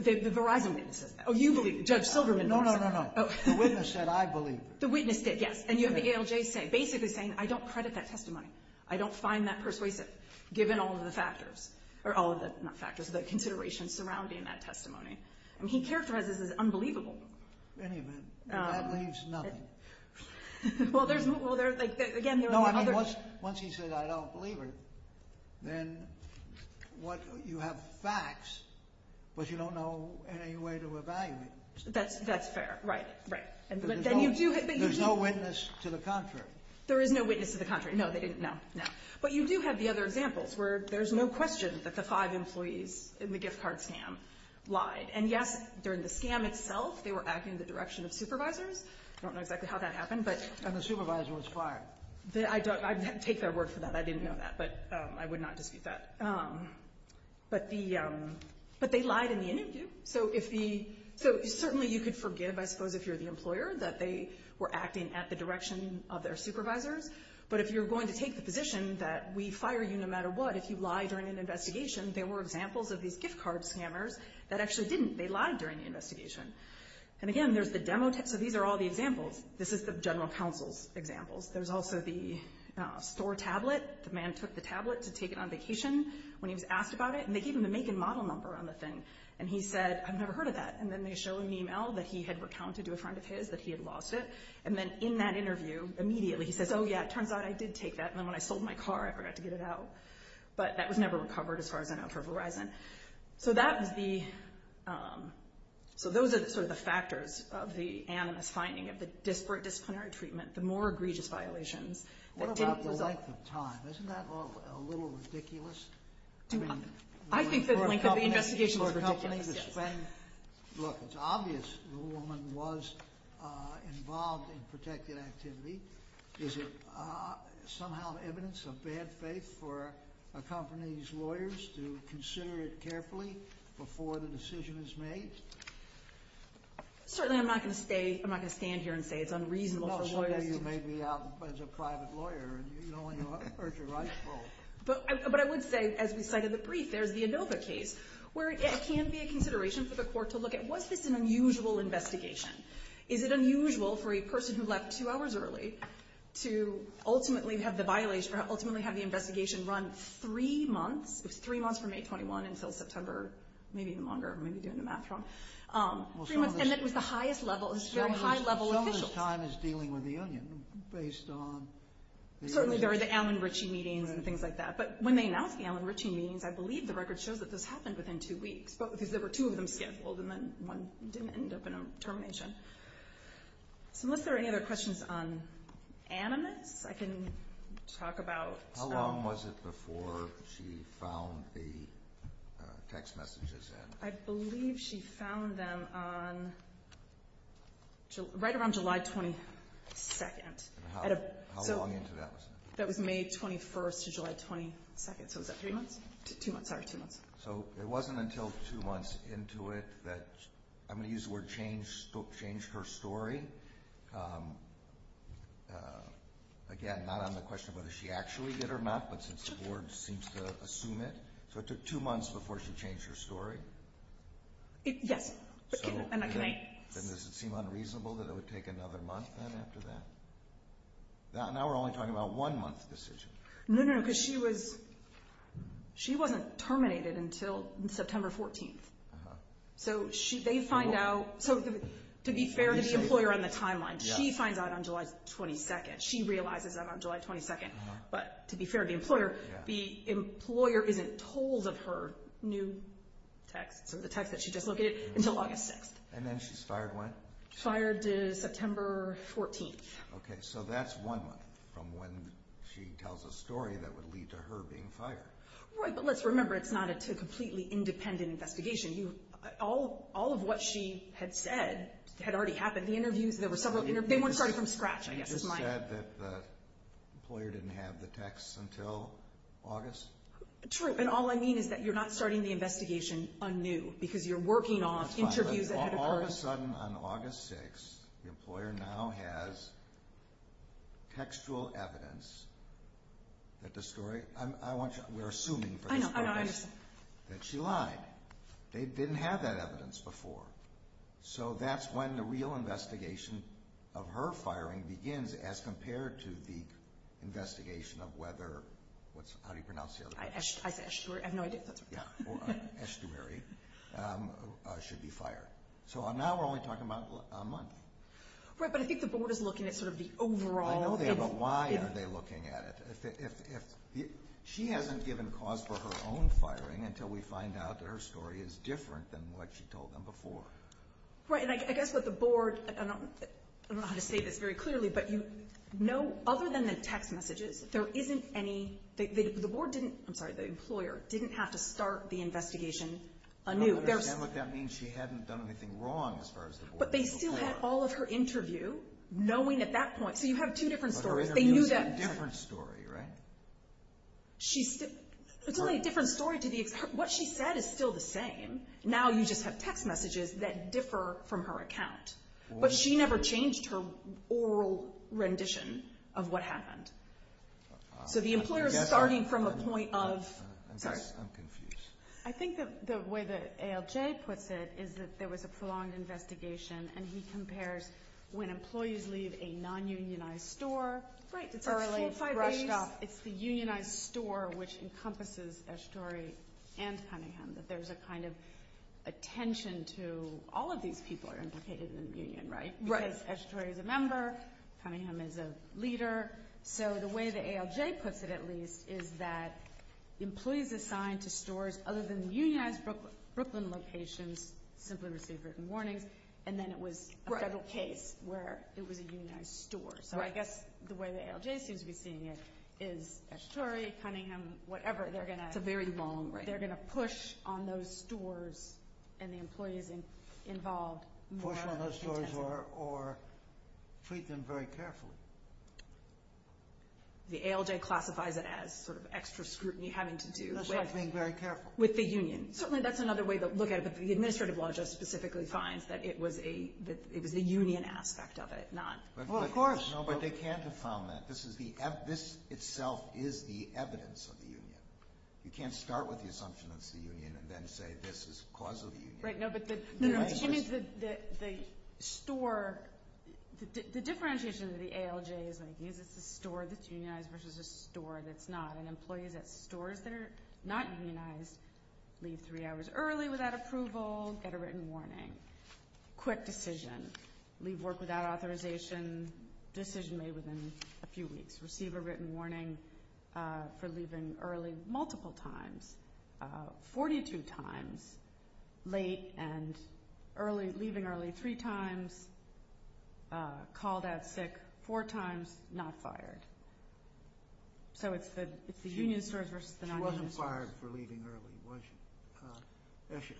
The Verizon witness says that. Oh, you believe her. Judge Silverman believes her. No, no, no, no, no. The witness said, I believe her. The witness did, yes. And you have the ALJ basically saying, I don't credit that testimony. I don't find that persuasive, given all of the factors. Or all of the, not factors, the considerations surrounding that testimony. I mean, he characterizes it as unbelievable. In any event, that leaves nothing. Well, there's, well, there, like, again, there are other. No, I mean, once he says, I don't believe her, then what, you have facts, but you don't know any way to evaluate them. That's fair. Right, right. But then you do. There's no witness to the contrary. There is no witness to the contrary. No, they didn't. No, no. But you do have the other examples where there's no question that the five employees in the gift card scam lied. And, yes, during the scam itself, they were acting in the direction of supervisors. I don't know exactly how that happened, but. And the supervisor was fired. I don't, I take their word for that. I didn't know that, but I would not dispute that. But the, but they lied in the interview. So if the, so certainly you could forgive, I suppose, if you're the employer, that they were acting at the direction of their supervisors. But if you're going to take the position that we fire you no matter what, if you lie during an investigation, there were examples of these gift card scammers that actually didn't. They lied during the investigation. And, again, there's the demo, so these are all the examples. This is the general counsel's examples. There's also the store tablet. The man took the tablet to take it on vacation when he was asked about it, and they gave him the make and model number on the thing. And he said, I've never heard of that. And then they show an email that he had recounted to a friend of his that he had lost it. And then in that interview, immediately he says, oh, yeah, it turns out I did take that. And then when I sold my car, I forgot to get it out. But that was never recovered, as far as I know, for Verizon. So that was the, so those are sort of the factors of the animus finding, of the disparate disciplinary treatment, the more egregious violations. What about the length of time? Isn't that a little ridiculous? I think the length of the investigation is ridiculous, yes. Look, it's obvious the woman was involved in protected activity. Is it somehow evidence of bad faith for a company's lawyers to consider it carefully before the decision is made? Certainly I'm not going to stay, I'm not going to stand here and say it's unreasonable for lawyers to. Well, she may be out as a private lawyer, and you only hurt your rightful. But I would say, as we cited in the brief, there's the Inova case, where it can be a consideration for the court to look at, was this an unusual investigation? Is it unusual for a person who left two hours early to ultimately have the violation, or ultimately have the investigation run three months? It was three months from May 21 until September, maybe even longer. I may be doing the math wrong. Three months, and it was the highest level, it was very high-level officials. Some of this time is dealing with the union, based on. Certainly there are the Alan Ritchie meetings and things like that. But when they announced the Alan Ritchie meetings, I believe the record shows that this happened within two weeks, because there were two of them scheduled, and then one didn't end up in a termination. So unless there are any other questions on animus, I can talk about. How long was it before she found the text messages in? I believe she found them on right around July 22. How long into that was that? That was May 21 to July 22, so was that three months? Two months, sorry, two months. So it wasn't until two months into it that, I'm going to use the word changed her story. Again, not on the question of whether she actually did or not, but since the board seems to assume it. So it took two months before she changed her story? Yes. Then does it seem unreasonable that it would take another month then after that? Now we're only talking about one month decision. No, no, no, because she wasn't terminated until September 14. So they find out, so to be fair to the employer on the timeline, she finds out on July 22. She realizes that on July 22, but to be fair to the employer, the employer isn't told of her new text, so the text that she just located until August 6. And then she's fired when? Fired September 14. Okay, so that's one month from when she tells a story that would lead to her being fired. Right, but let's remember it's not a completely independent investigation. All of what she had said had already happened. The interviews, there were several interviews. They weren't started from scratch, I guess is my— You just said that the employer didn't have the text until August? True, and all I mean is that you're not starting the investigation anew because you're working off interviews ahead of time. All of a sudden on August 6, the employer now has textual evidence that the story—we're assuming for this purpose— I know, I know, I understand. That she lied. They didn't have that evidence before. So that's when the real investigation of her firing begins as compared to the investigation of whether—how do you pronounce the other one? Estuary, I have no idea if that's right. Yeah, or estuary should be fired. So now we're only talking about a month. Right, but I think the board is looking at sort of the overall— I know they are, but why are they looking at it? She hasn't given cause for her own firing until we find out that her story is different than what she told them before. Right, and I guess what the board—I don't know how to say this very clearly, but you know other than the text messages, there isn't any— the board didn't—I'm sorry, the employer didn't have to start the investigation anew. I don't understand what that means. She hadn't done anything wrong as far as the board— But they still had all of her interview knowing at that point. So you have two different stories. They knew that— Different story, right? It's only a different story to the—what she said is still the same. Now you just have text messages that differ from her account. But she never changed her oral rendition of what happened. So the employer is starting from a point of— I'm confused. I think the way that ALJ puts it is that there was a prolonged investigation, and he compares when employees leave a non-unionized store— Right, it's a four, five days. It's the unionized store which encompasses Eshetory and Cunningham, that there's a kind of attention to all of these people are implicated in the union, right? Right. Because Eshetory is a member, Cunningham is a leader. So the way that ALJ puts it, at least, is that employees assigned to stores other than the unionized Brooklyn locations simply receive written warnings, and then it was a federal case where it was a unionized store. So I guess the way the ALJ seems to be seeing it is Eshetory, Cunningham, whatever, they're going to— It's a very long— They're going to push on those stores and the employees involved more intensely. Push on those stores or treat them very carefully. The ALJ classifies it as sort of extra scrutiny having to do with— That's not being very careful. With the union. Certainly that's another way to look at it, but the administrative law just specifically finds that it was a union aspect of it, not— Well, of course. No, but they can't have found that. This itself is the evidence of the union. You can't start with the assumption that it's the union and then say this is the cause of the union. Right, no, but the store—the differentiation of the ALJ is that it's a store that's unionized versus a store that's not, and employees at stores that are not unionized leave three hours early without approval, get a written warning. Quick decision. Leave work without authorization. Decision made within a few weeks. Receive a written warning for leaving early multiple times. Forty-two times late and early—leaving early three times. Called out sick four times. Not fired. So it's the union stores versus the non-union stores. She wasn't fired for leaving early, was she?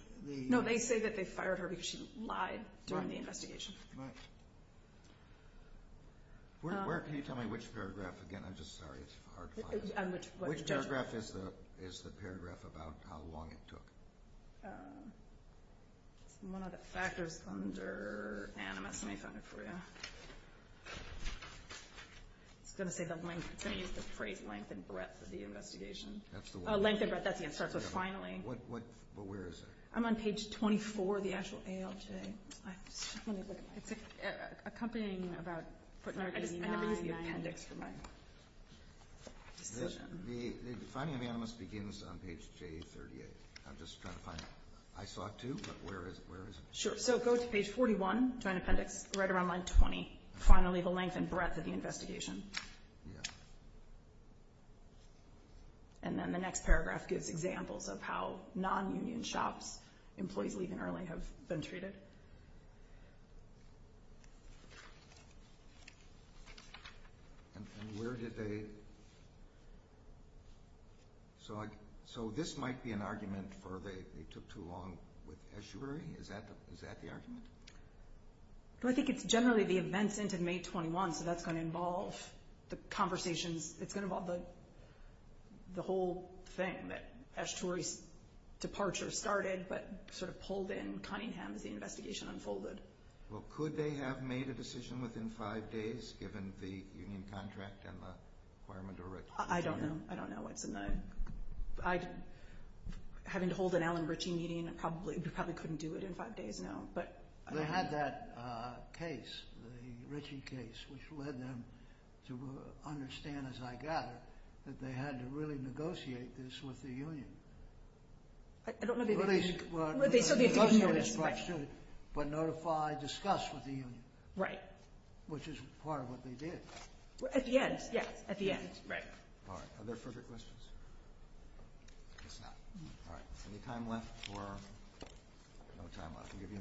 No, they say that they fired her because she lied during the investigation. Right. Where can you tell me which paragraph? Again, I'm just sorry. It's hard to find. Which paragraph is the paragraph about how long it took? It's one of the factors under animus. Let me find it for you. It's going to say the length. It's going to use the phrase length and breadth of the investigation. That's the one? Length and breadth. That's the one it starts with, finally. But where is it? I'm on page 24 of the actual ALJ. Let me look at mine. It's accompanying about 189. I never use the appendix for my decision. The defining of animus begins on page J38. I'm just trying to find it. I saw it, too, but where is it? Sure, so go to page 41, joint appendix, right around line 20, finally the length and breadth of the investigation. Yeah. And then the next paragraph gives examples of how non-union shops, employees leaving early, have been treated. And where did they? So this might be an argument for they took too long with eschewary? Is that the argument? Well, I think it's generally the events into May 21, so that's going to involve the conversations. It's going to involve the whole thing, that eschewary's departure started but sort of pulled in Cunningham as the investigation unfolded. Well, could they have made a decision within five days, given the union contract and the requirement to retire? I don't know. I don't know. Having to hold an Alan Ritchie meeting, we probably couldn't do it in five days, no. They had that case, the Ritchie case, which led them to understand, as I gather, that they had to really negotiate this with the union. I don't know if they did. They still did. But notify, discuss with the union. Right. Which is part of what they did. At the end, yes, at the end. All right. Are there further questions? I guess not. All right. Any time left or no time left? I'll give you a minute.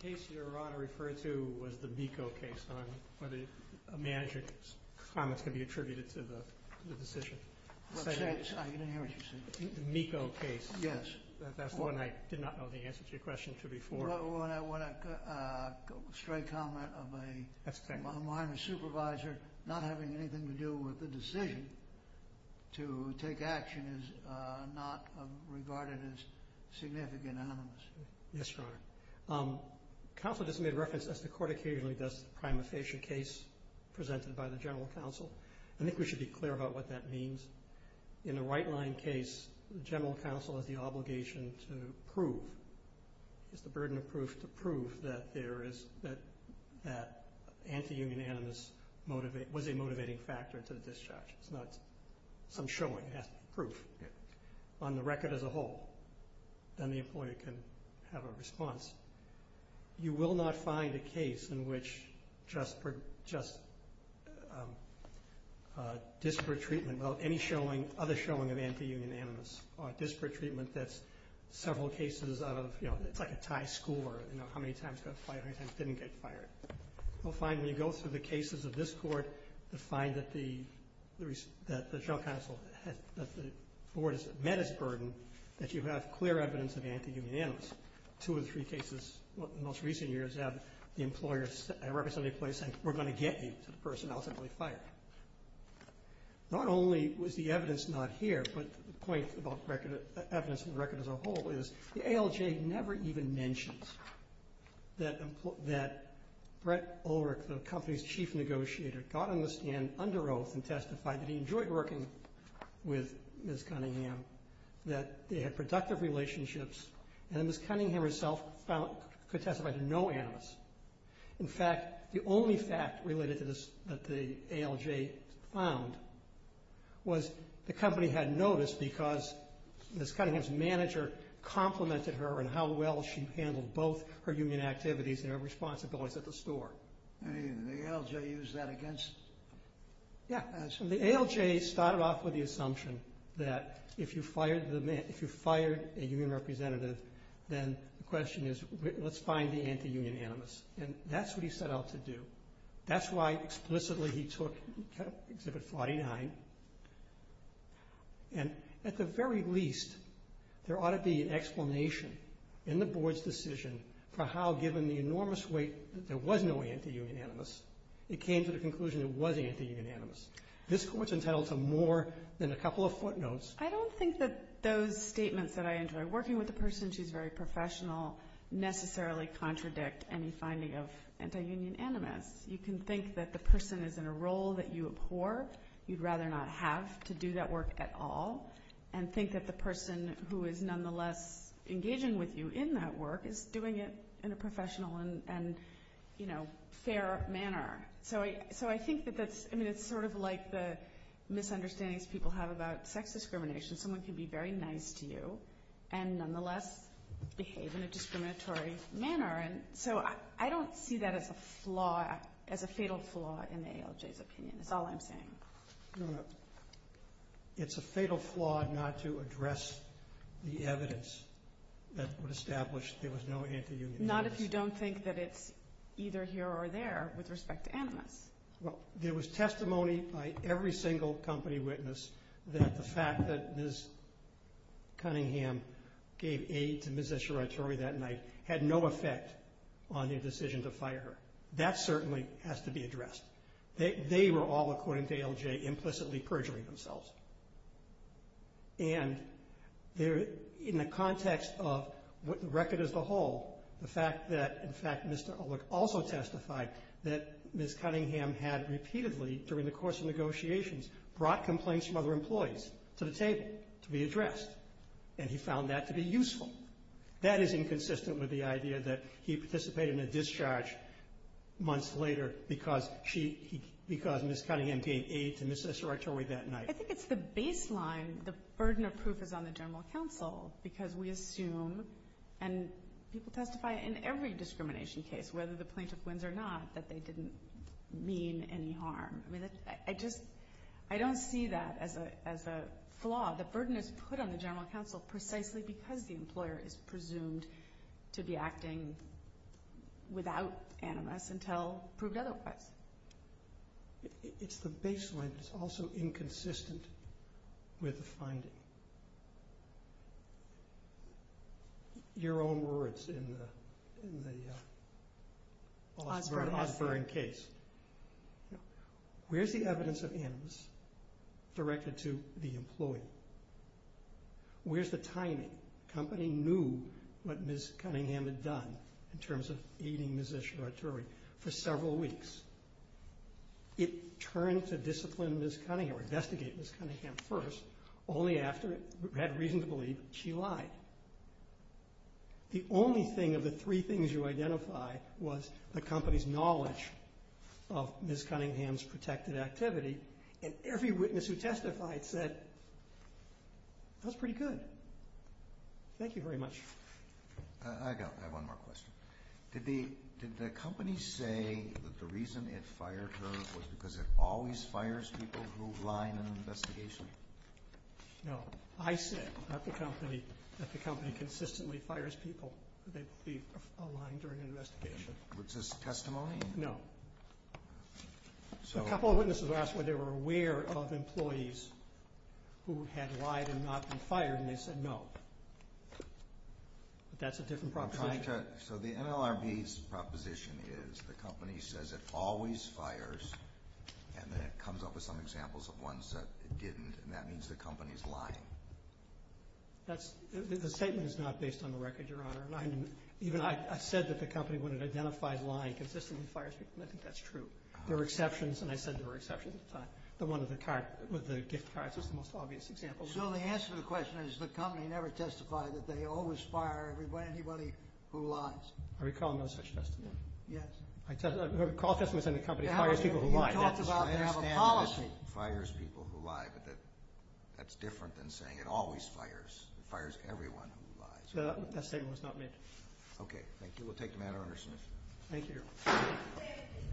The case you're referring to was the MECO case, whether a manager's comments could be attributed to the decision. I didn't hear what you said. The MECO case. Yes. That's the one I did not know the answer to your question to before. A straight comment of a minor supervisor not having anything to do with the decision to take action is not regarded as significant anonymous. Yes, Your Honor. Counsel just made reference, as the court occasionally does, to the prima facie case presented by the general counsel. I think we should be clear about what that means. In a right-line case, the general counsel has the obligation to prove. It's the burden of proof to prove that there is that anti-union animus was a motivating factor to the discharge. It's not some showing. It has to be proof on the record as a whole. Then the employer can have a response. You will not find a case in which just disparate treatment, without any other showing of anti-union animus, or disparate treatment that's several cases of, you know, it's like a tie score, you know, how many times it got fired, how many times it didn't get fired. You'll find when you go through the cases of this court, you'll find that the board has met its burden, that you have clear evidence of anti-union animus. Two or three cases in the most recent years have the employer representing the employer saying, we're going to get you to the person ultimately fired. Not only was the evidence not here, but the point about evidence on the record as a whole is, the ALJ never even mentions that Brett Ulrich, the company's chief negotiator, got on the stand under oath and testified that he enjoyed working with Ms. Cunningham, that they had productive relationships, and that Ms. Cunningham herself could testify to no animus. In fact, the only fact related to this that the ALJ found was the company had noticed because Ms. Cunningham's manager complimented her on how well she handled both her union activities and her responsibilities at the store. And the ALJ used that against... Yeah, the ALJ started off with the assumption that if you fired a union representative, then the question is, let's find the anti-union animus. And that's what he set out to do. That's why explicitly he took Exhibit 49. And at the very least, there ought to be an explanation in the Board's decision for how, given the enormous weight that there was no anti-union animus, it came to the conclusion it was anti-union animus. This Court's entitled to more than a couple of footnotes. I don't think that those statements that I enjoy, working with a person who's very professional, necessarily contradict any finding of anti-union animus. You can think that the person is in a role that you abhor, you'd rather not have to do that work at all, and think that the person who is nonetheless engaging with you in that work is doing it in a professional and, you know, fair manner. So I think that that's... I mean, it's sort of like the misunderstandings people have about sex discrimination. Someone can be very nice to you and nonetheless behave in a discriminatory manner. So I don't see that as a flaw, as a fatal flaw in the ALJ's opinion. That's all I'm saying. No, no. It's a fatal flaw not to address the evidence that would establish there was no anti-union animus. Not if you don't think that it's either here or there with respect to animus. Well, there was testimony by every single company witness that the fact that Ms. Cunningham gave aid to Ms. Escharatory that night had no effect on their decision to fire her. That certainly has to be addressed. They were all, according to ALJ, implicitly perjuring themselves. And in the context of what the record is the whole, the fact that, in fact, Mr. Ulrich also testified that Ms. Cunningham had repeatedly, during the course of negotiations, brought complaints from other employees to the table to be addressed. And he found that to be useful. That is inconsistent with the idea that he participated in a discharge months later because Ms. Cunningham gave aid to Ms. Escharatory that night. I think it's the baseline. The burden of proof is on the general counsel because we assume, and people testify in every discrimination case, whether the plaintiff wins or not, that they didn't mean any harm. I don't see that as a flaw. The burden is put on the general counsel precisely because the employer is presumed to be acting without animus until proved otherwise. It's the baseline that's also inconsistent with the finding. Your own words in the Osborne case. Where's the evidence of animus directed to the employee? Where's the timing? The company knew what Ms. Cunningham had done in terms of aiding Ms. Escharatory for several weeks. It turned to discipline Ms. Cunningham or investigate Ms. Cunningham first only after it had reason to believe she lied. The only thing of the three things you identify was the company's knowledge of Ms. Cunningham's protected activity, and every witness who testified said, that was pretty good. Thank you very much. I have one more question. Did the company say that the reason it fired her was because it always fires people who lie in an investigation? No. I said that the company consistently fires people who they believe are lying during an investigation. Was this testimony? No. A couple of witnesses asked whether they were aware of employees who had lied and not been fired, and they said no. That's a different proposition. So the NLRB's proposition is the company says it always fires, and then it comes up with some examples of ones that it didn't, and that means the company is lying. The statement is not based on the record, Your Honor. I said that the company, when it identified lying, consistently fires people, and I think that's true. There were exceptions, and I said there were exceptions at the time. The one with the gift cards was the most obvious example. So the answer to the question is the company never testified that they always fire anybody who lies. I recall no such testimony. Yes. I recall a testimony saying the company fires people who lie. You talked about they have a policy. I understand that it fires people who lie, but that's different than saying it always fires. It fires everyone who lies. That statement was not made. We'll take the matter under submission. Thank you, Your Honor.